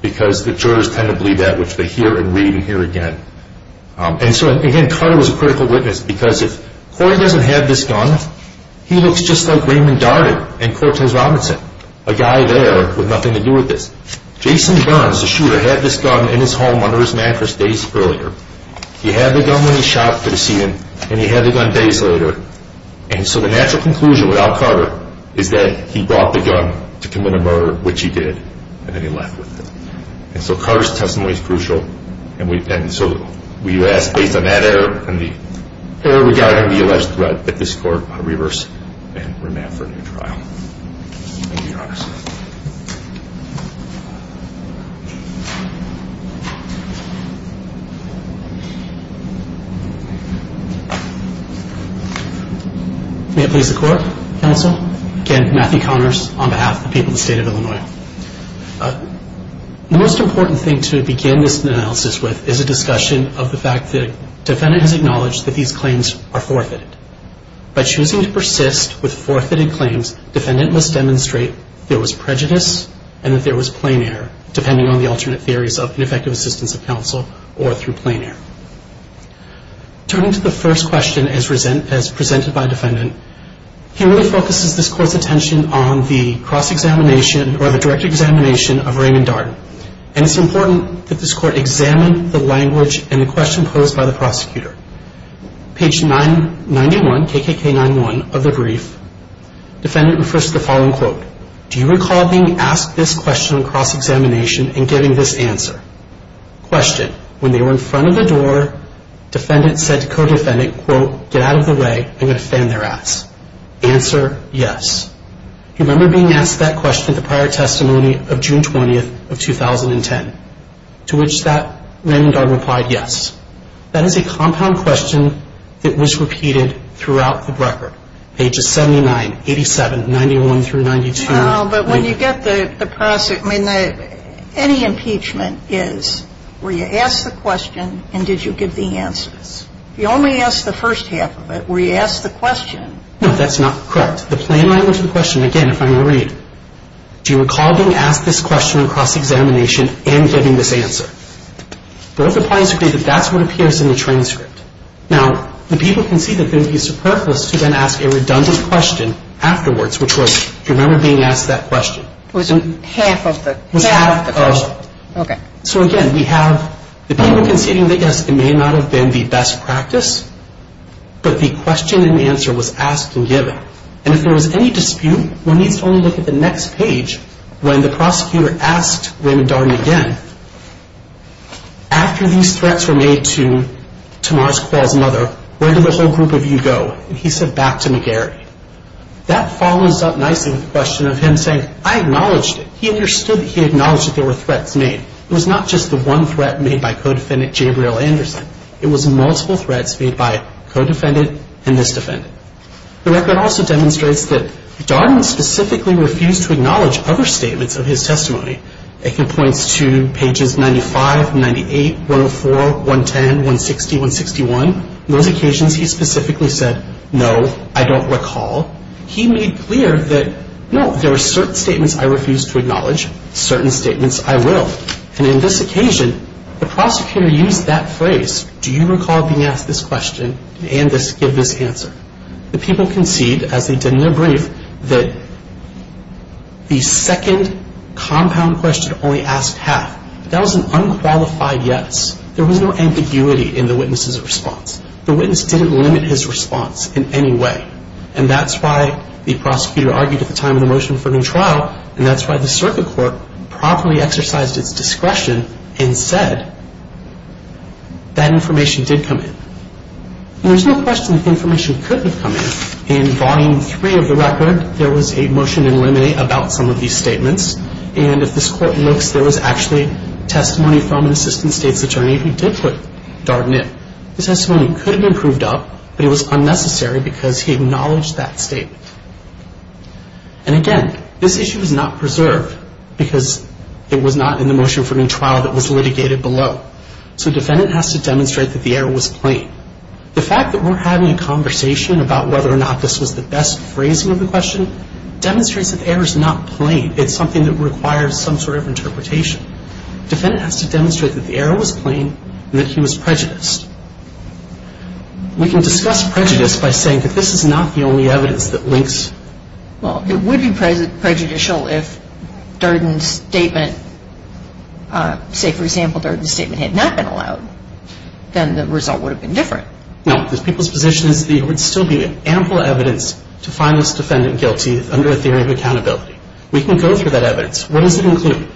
Because the jurors kind of believe that, which they hear and read and hear again. And so, again, Carter was a critical witness because if Corey doesn't have this gun, he looks just like Raymond Darden and Cortez Robinson, a guy there with nothing to do with this. Jason Johns, the shooter, had this gun in his home under his mattress days earlier. He had the gun in his shop for the season, and he had the gun days later. And so we have the conclusion without Carter is that he brought the gun to commit a murder, which he did, and then he left with it. And so Carter's testimony is crucial. And so we have faith in that error, and the error we got out of the arrest threat that this court reversed. And we're now starting the trial. Thank you, Your Honor. Anthony LaCour, counsel, and Matthew Connors on behalf of the people of the state of Illinois. The most important thing to begin this analysis with is a discussion of the fact that defendant has acknowledged that these claims are forfeited. By choosing to persist with forfeited claims, defendant must demonstrate there was prejudice and that there was plain error, depending on the alternate theories of the effective assistance of counsel or through plain error. Turning to the first question as presented by defendant, here we focus this court's attention on the cross-examination or the direct examination of Raymond Darden. And it's important that this court examine the language in the question posed by the prosecutor. Page 91, KKK91 of the brief, defendant refers to the following quote. Do you recall being asked this question in cross-examination and getting this answer? Question. When they were in front of the door, defendant says co-defendant, quote, get out of the way and defend their acts. Answer, yes. Do you remember being asked that question at the prior testimony of June 20th of 2010? To which that Raymond Darden replied, yes. That is a compound question that was repeated throughout the record. Pages 79, 87, 91 through 92. No, but when you get across it, I mean, any impeachment is where you ask the question and did you get the answers. You only ask the first half of it, where you ask the question. No, that's not correct. The same language of the question, again, if I may read. Do you recall being asked this question in cross-examination and getting this answer? There is a point to be made that that's what appears in the transcript. Now, the people can see that the use of purpose began to ask a redundant question afterwards, which was, do you remember being asked that question? Half of the question. Half of the question. Okay. So, again, we have the people can think that it may not have been the best practice, but the question and answer was asked and given. And if there was any dispute, we need to only look at the next page when the prosecutor asked Raymond Darden again. After these threats were made to Tomasz Kowal's mother, where did the whole group of you go? And he said back to McGarry. That follows up nicely with the question of him saying, I acknowledged it. He understood that he acknowledged that there were threats made. It was not just the one threat made by codefendant Gabriel Anderson. It was multiple threats made by codefendant and misdefendant. The record also demonstrates that Darden specifically refused to acknowledge other statements of his testimony. It can point to pages 95, 98, 104, 110, 160, 161. On occasions he specifically said, no, I don't recall. He made clear that, no, there are certain statements I refuse to acknowledge. Certain statements I will. And in this occasion, the prosecutor used that phrase, do you recall being asked this question and this given answer? The people concede, as we didn't agree, that the second compound question only asked half. That was an unqualified yes. There was no ambiguity in the witness's response. The witness didn't limit his response in any way. And that's why the prosecutor argued at the time of the motion for the trial, and that's why the circuit court properly exercised its discretion and said that information did come in. There's no question that information could have come in. In Volume 3 of the record, there was a motion in limine about some of these statements, and if this court looked, there was actually testimony from an assistant state attorney who did start in. The testimony could have been proved up, but it was unnecessary because he acknowledged that statement. And again, this issue is not preserved because it was not in the motion for the trial that was litigated below. So the defendant has to demonstrate that the error was plain. The fact that we're having a conversation about whether or not this was the best phrasing of the question demonstrates that the error is not plain. It's something that requires some sort of interpretation. The defendant has to demonstrate that the error was plain and that he was prejudiced. We can discuss prejudice by saying that this is not the only evidence that links. Well, it would be prejudicial if Durden's statement, say for example, Durden's statement had not been allowed. Then the result would have been different. No, this people's position would still be ample evidence to find this defendant guilty under a theory of accountability. We can go through that evidence. What does it include?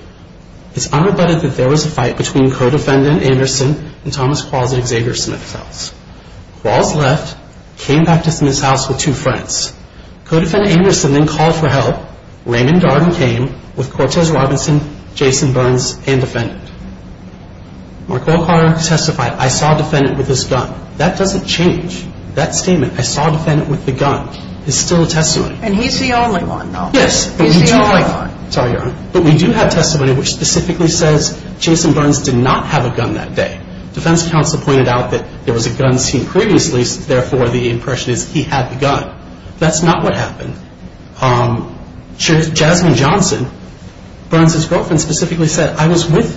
It's unrebutted that there was a fight between co-defendant Anderson and Thomas Quagley Xavier Smith. Quagley left, came back to Smith's house with two friends. Co-defendant Anderson then called for help. Raymond Durden came with Cortez Robinson, Jason Burns, and defendants. Marquardt testified, I saw the defendant with his gun. That doesn't change. That statement, I saw the defendant with the gun, is still a testimony. And he's the only one though. Yes. He's the only one. Sorry, Your Honor. But we do have testimony which specifically says Jason Burns did not have a gun that day. Defense counsel pointed out that there was a gun scene previously. Therefore, the impression is he had the gun. That's not what happened. Judge Jasmine Johnson, Burns' girlfriend, specifically said, I was with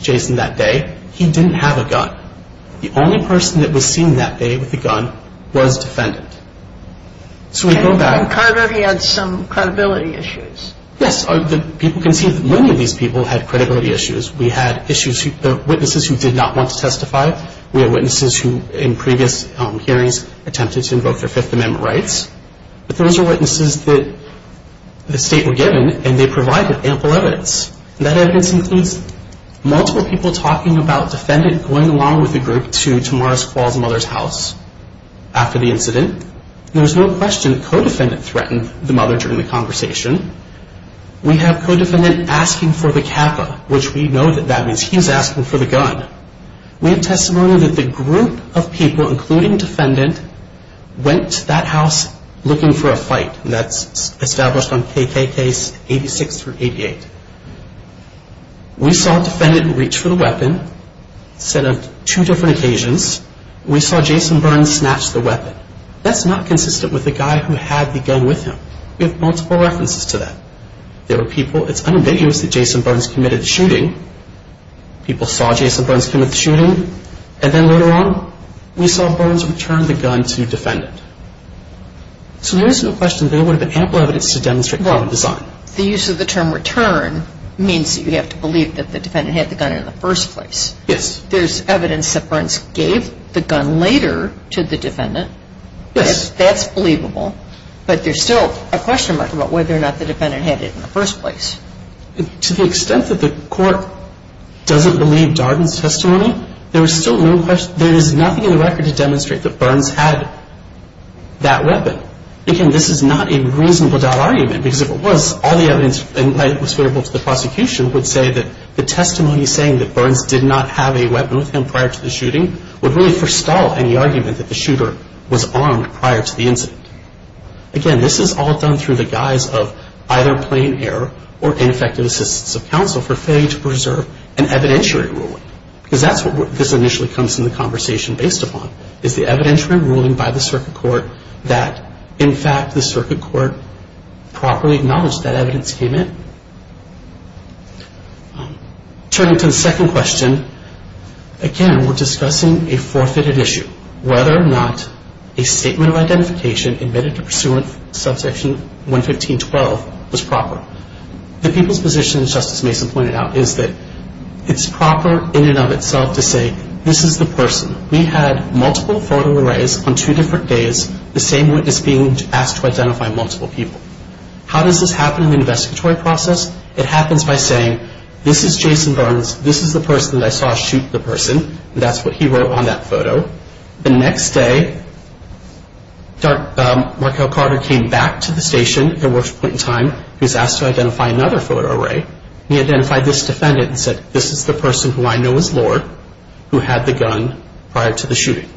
Jason that day. He didn't have a gun. The only person that was seen that day with the gun was the defendant. So we go back. And credibility had some credibility issues. Yes. Many of these people had credibility issues. We had witnesses who did not want to testify. We had witnesses who in previous hearings attempted to invoke their Fifth Amendment rights. Those are witnesses that the state were given, and they provide ample evidence. And that evidence includes multiple people talking about the defendant going along with the group to Tamara Squall's mother's house after the incident. There was no question the co-defendant threatened the mother during the conversation. We have co-defendant asking for the CAFA, which we know that that means he's asking for the gun. We have testimony that the group of people, including the defendant, went to that house looking for a fight. That's established on KKK's 86 through 88. We saw the defendant reach for the weapon, set up two different occasions. We saw Jason Burns snatch the weapon. That's not consistent with the guy who had the gun with him. We have multiple references to that. There were people. It's unambiguous that Jason Burns committed the shooting. People saw Jason Burns commit the shooting. And then later on, we saw Burns return the gun to the defendant. So there is no question there would have been ample evidence to demonstrate violent design. The use of the term return means that you have to believe that the defendant had the gun in the first place. Yes. There's evidence that Burns gave the gun later to the defendant. Yes. That's believable. But there's still a question mark about whether or not the defendant had it in the first place. To the extent that the court doesn't believe Darden's testimony, there is nothing in the record to demonstrate that Burns had that weapon. Again, this is not a reasonable doubt argument, because if it was, all the evidence provided to the prosecution would say that the testimony saying that Burns did not have a weapon with him prior to the shooting would really forestall any argument that the shooter was armed prior to the incident. Again, this is all done through the guise of either plain error or ineffective assistance of counsel for failing to preserve an evidentiary ruling, because that's what this initially comes to the conversation based upon, is the evidentiary ruling by the circuit court that, in fact, the circuit court properly acknowledged that evidence came in. Turning to the second question, again, we're discussing a forfeited issue, whether or not a statement of identification admitted to pursuant to subsection 115.12 was proper. The people's position, as Justice Mason pointed out, is that it's proper in and of itself to say, this is the person. We had multiple photo arrays on two different days, the same witness being asked to identify multiple people. How does this happen in the investigatory process? It happens by saying, this is Jason Burns, this is the person that I saw shoot the person, and that's what he wrote on that photo. The next day, Markel Carter came back to the station at the worst point in time. He was asked to identify another photo array. He identified this defendant and said, this is the person who I know is Lord, who had the gun prior to the shooting.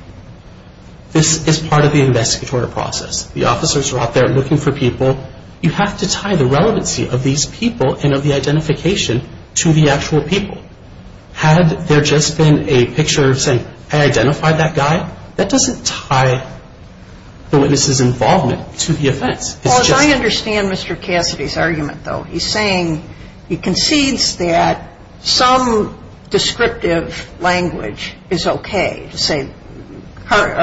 This is part of the investigatory process. The officers are out there looking for people. You have to tie the relevancy of these people and of the identification to the actual people. Had there just been a picture saying, I identified that guy, that doesn't tie the witness's involvement to the offense. Well, I understand Mr. Cassidy's argument, though. He's saying he concedes that some descriptive language is okay, to say Corey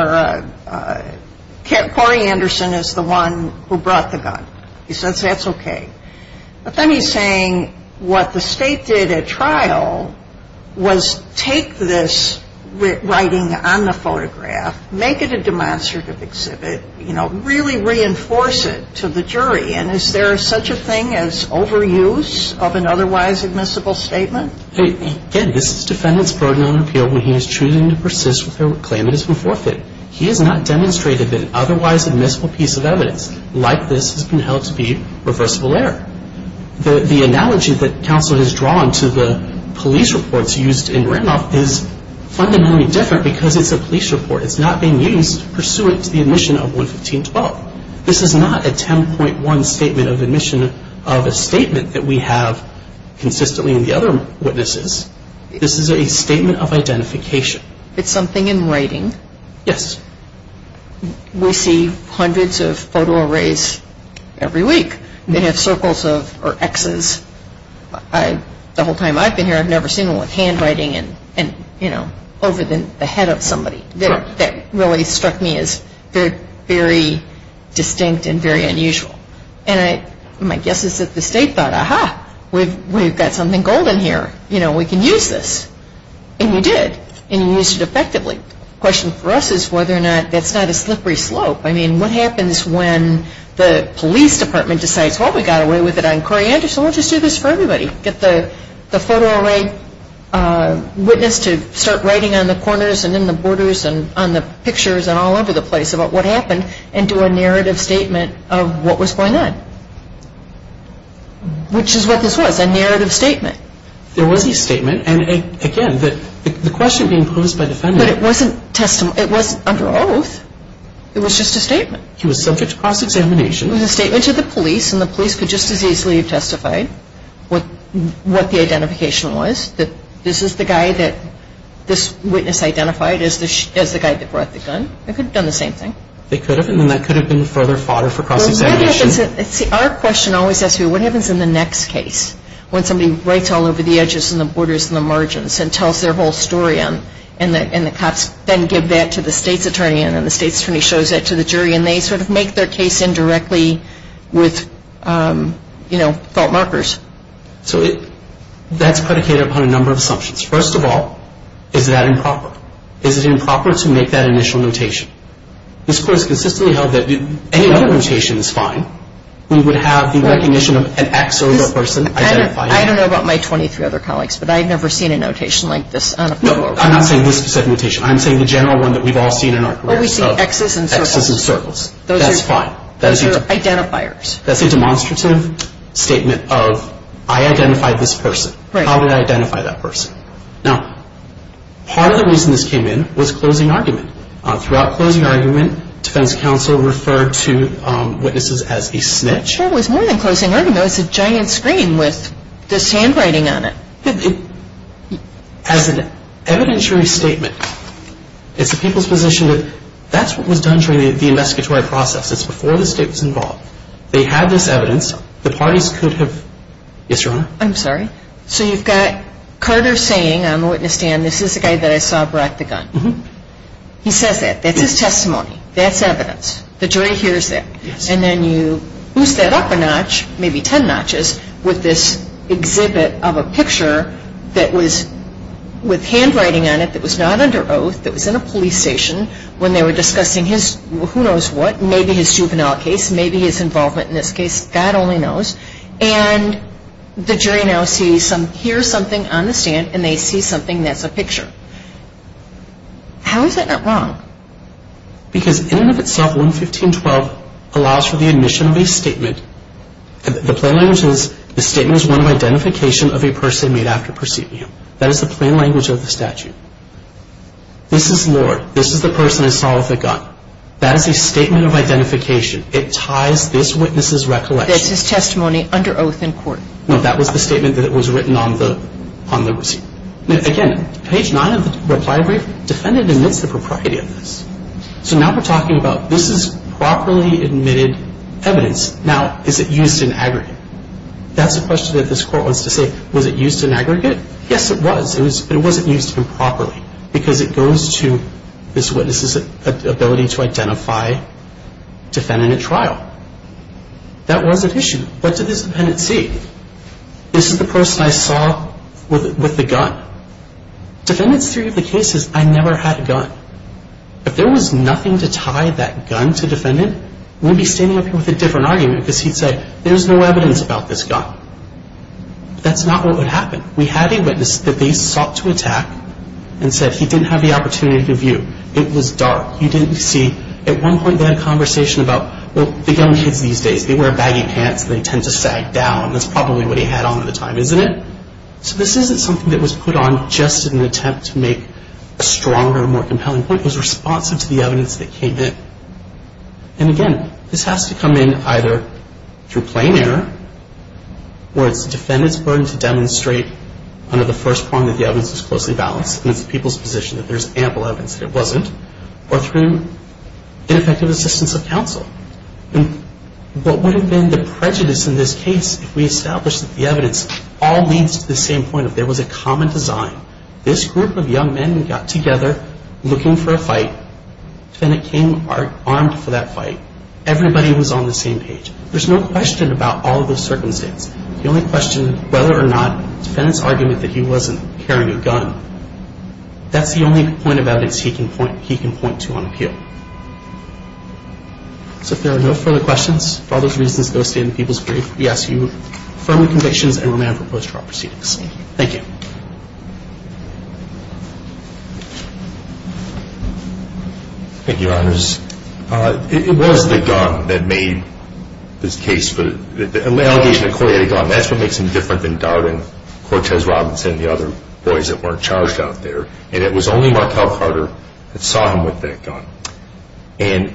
Anderson is the one who brought the gun. He says that's okay. But then he's saying what the state did at trial was take this writing on the photograph, make it a demonstrative exhibit, really reinforce it to the jury, and is there such a thing as overuse of an otherwise admissible statement? He did. This is the defendant's burden on the field when he was choosing to persist with a claim that has been forfeited. This is not a 10.1 statement of admission of a statement that we have consistently in the other witnesses. This is a statement of identification. It's something in writing? Yes. hundreds of photographs, hundreds of photographs, hundreds of photographs, I mean, people raise every week. They have circles or X's. The whole time I've been here, I've never seen one with handwriting over the head of somebody. That really struck me as very distinct and very unusual. My guess is that the state thought, ah-hah, we've got something golden here. We can use this. And we did, and we used it effectively. The question for us is whether or not that's not a slippery slope. I mean, what happens when the police department decides, oh, we got away with it, I'm crying. So let's just do this for everybody. Get the photo array witness to start writing on the corners and in the borders and on the pictures and all over the place about what happened and do a narrative statement of what was going on, which is what this was, a narrative statement. There was a statement, and again, the question being posed by the funders. But it wasn't under oath. It was just a statement. She was subject to cross-examination. It was a statement to the police, and the police could just as easily have testified what the identification was, that this is the guy that this witness identified as the guy that brought the gun. They could have done the same thing. They could have, and that could have been a further fodder for cross-examination. See, our question always asks you, what happens in the next case when somebody writes all over the edges and the borders and the margins and tells their whole story and the cops then give that to the state's attorney and then the state's attorney shows that to the jury and they sort of make their case indirectly with, you know, fault markers? So that's predicated upon a number of assumptions. First of all, is that improper? Is it improper to make that initial notation? This court has consistently held that any other notation is fine. We would have the recognition of an X or no person identified. I don't know about my 23 other colleagues, but I've never seen a notation like this. I'm not saying this is a good notation. I'm saying the general one that we've all seen in our careers. We see X's and circles. X's and circles. Those are identifiers. That's fine. That's a demonstrative statement of I identified this person. How do I identify that person? Now, part of the reason this came in was closing argument. Throughout closing argument, defense counsel referred to witnesses as a snitch. I'm sure it was more than closing argument. It's a giant screen with this handwriting on it. It has an evidentiary statement. It's the people's position that that's what was done during the investigatory process. It's before the state was involved. They had this evidence. The parties could have ---- Yes, Your Honor? I'm sorry? So you've got Carter saying on the witness stand, this is the guy that I saw brought the gun. He says that. That's his testimony. That's evidence. The jury hears that. And then you boost that up a notch, maybe ten notches, with this exhibit of a picture that was with handwriting on it that was not under oath, that was in a police station when they were discussing his who knows what, maybe his juvenile case, maybe his involvement in this case. God only knows. And the jury now hears something on the stand, and they see something that's a picture. How is that not wrong? Because in and of itself, 115.12 allows for the admission of a statement. The plain language is the statement is one of identification of a person made after proceeding. That is the plain language of the statute. This is Lord. This is the person that saw the gun. That is a statement of identification. It ties this witness's recollection. That's his testimony under oath in court. No, that was the statement that was written on the receipt. Again, page 9 of the reply brief defended amidst the propriety of this. So now we're talking about this is properly admitted evidence. Now, is it used in aggregate? That's the question that this court wants to say. Was it used in aggregate? Yes, it was. It wasn't used improperly because it goes to this witness's ability to identify, defend in a trial. That was an issue. That's a dependency. Isn't the person I saw with the gun? Defendant's theory of the case is I never had a gun. If there was nothing to tie that gun to defendant, we'd be standing up here with a different argument because he'd say, there's no evidence about this gun. That's not what would happen. We have a witness that they sought to attack and says he didn't have the opportunity to view. It was dark. He didn't see. At one point, they had a conversation about, well, the gun should be safe. They wear baggy pants. They tend to sag down. That's probably what he had on at the time, isn't it? So this isn't something that was put on just in an attempt to make a stronger, more compelling point. It was responsive to the evidence that came in. And, again, this has to come in either through plain error, or it's the defendant's burden to demonstrate under the first point that the evidence is closely balanced. It means the people's position that there's ample evidence that it wasn't, or through ineffective assistance of counsel. What would have been the prejudice in this case if we established that the evidence all leads to the same point, that there was a common design. This group of young men got together, looking for a fight. The defendant came apart, armed for that fight. Everybody was on the same page. There's no question about all of the circumstances. The only question is whether or not the defendant's argument that he wasn't carrying a gun. That's the only point of evidence he can point to on appeal. If there are no further questions, for other reasons posted in the people's brief, we ask you to confirm the convictions and remember post-trial proceedings. Thank you. Thank you, Your Honors. It wasn't the gun that made this case. The allegation that Corey had a gun, that's what makes him different than Darwin, Cortez, Robinson, and the other boys that weren't charged out there. And it was only Markell Carter that saw him with that gun. And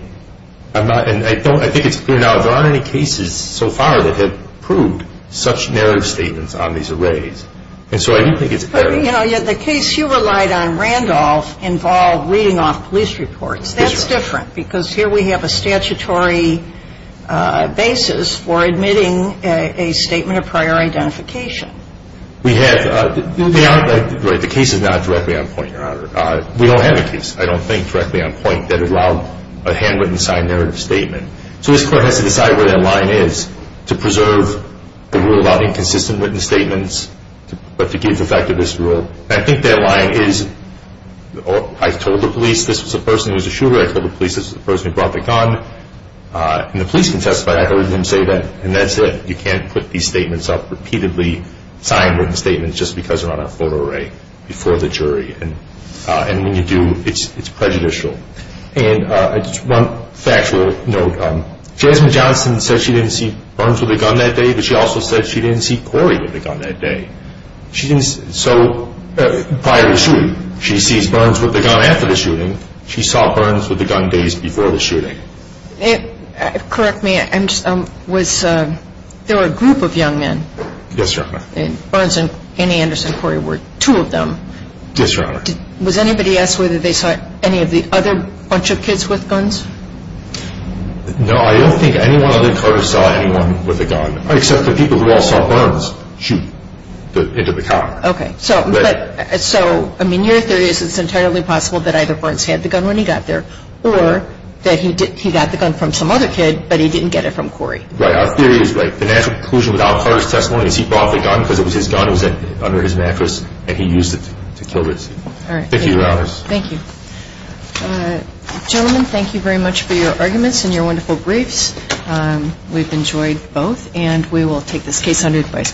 I think it's clear now, there aren't any cases so far that have proved such narrative statements on these arrays. And so I do think it's apparent. The case you relied on, Randolph, involved reading off police reports. That's different because here we have a statutory basis for admitting a statement of prior identification. We have. The case is not directly on point, Your Honor. We don't have a case, I don't think, directly on point, that allowed a handwritten, signed narrative statement. So this Court has to decide where that line is, to preserve the rule about inconsistent written statements, but to give the fact of this rule. And I think that line is, I told the police, this is a person who's a shooter, I told the police, this is a person who brought the gun. And the police can testify. I heard them say that. And that's it. signed written statements just because they're on a photo array before the jury. And when you do, it's prejudicial. And it's one fact where, you know, Josephine Johnson says she didn't see Burns with a gun that day, but she also says she didn't see Corey with a gun that day. So prior to the shooting, she sees Burns with a gun after the shooting. She saw Burns with a gun days before the shooting. Correct me, there were a group of young men. Yes, Your Honor. Burns and Andy Anderson Corey were two of them. Yes, Your Honor. Was anybody asked whether they saw any of the other bunch of kids with guns? No, I don't think anyone other than her saw anyone with a gun. Except the people who all saw Burns shoot into the car. Okay. So, I mean, your theory is it's entirely possible that either Burns had the gun when he got there, or that he got the gun from some other kid, but he didn't get it from Corey. Right. Our theory is, like, the national conclusion without first testimony is he brought the gun because it was his gun, it was under his mattress, and he used it to kill him. All right. Thank you, Your Honor. Thank you. Gentlemen, thank you very much for your arguments and your wonderful briefs. We've enjoyed both, and we will take this case under advice. Thank you.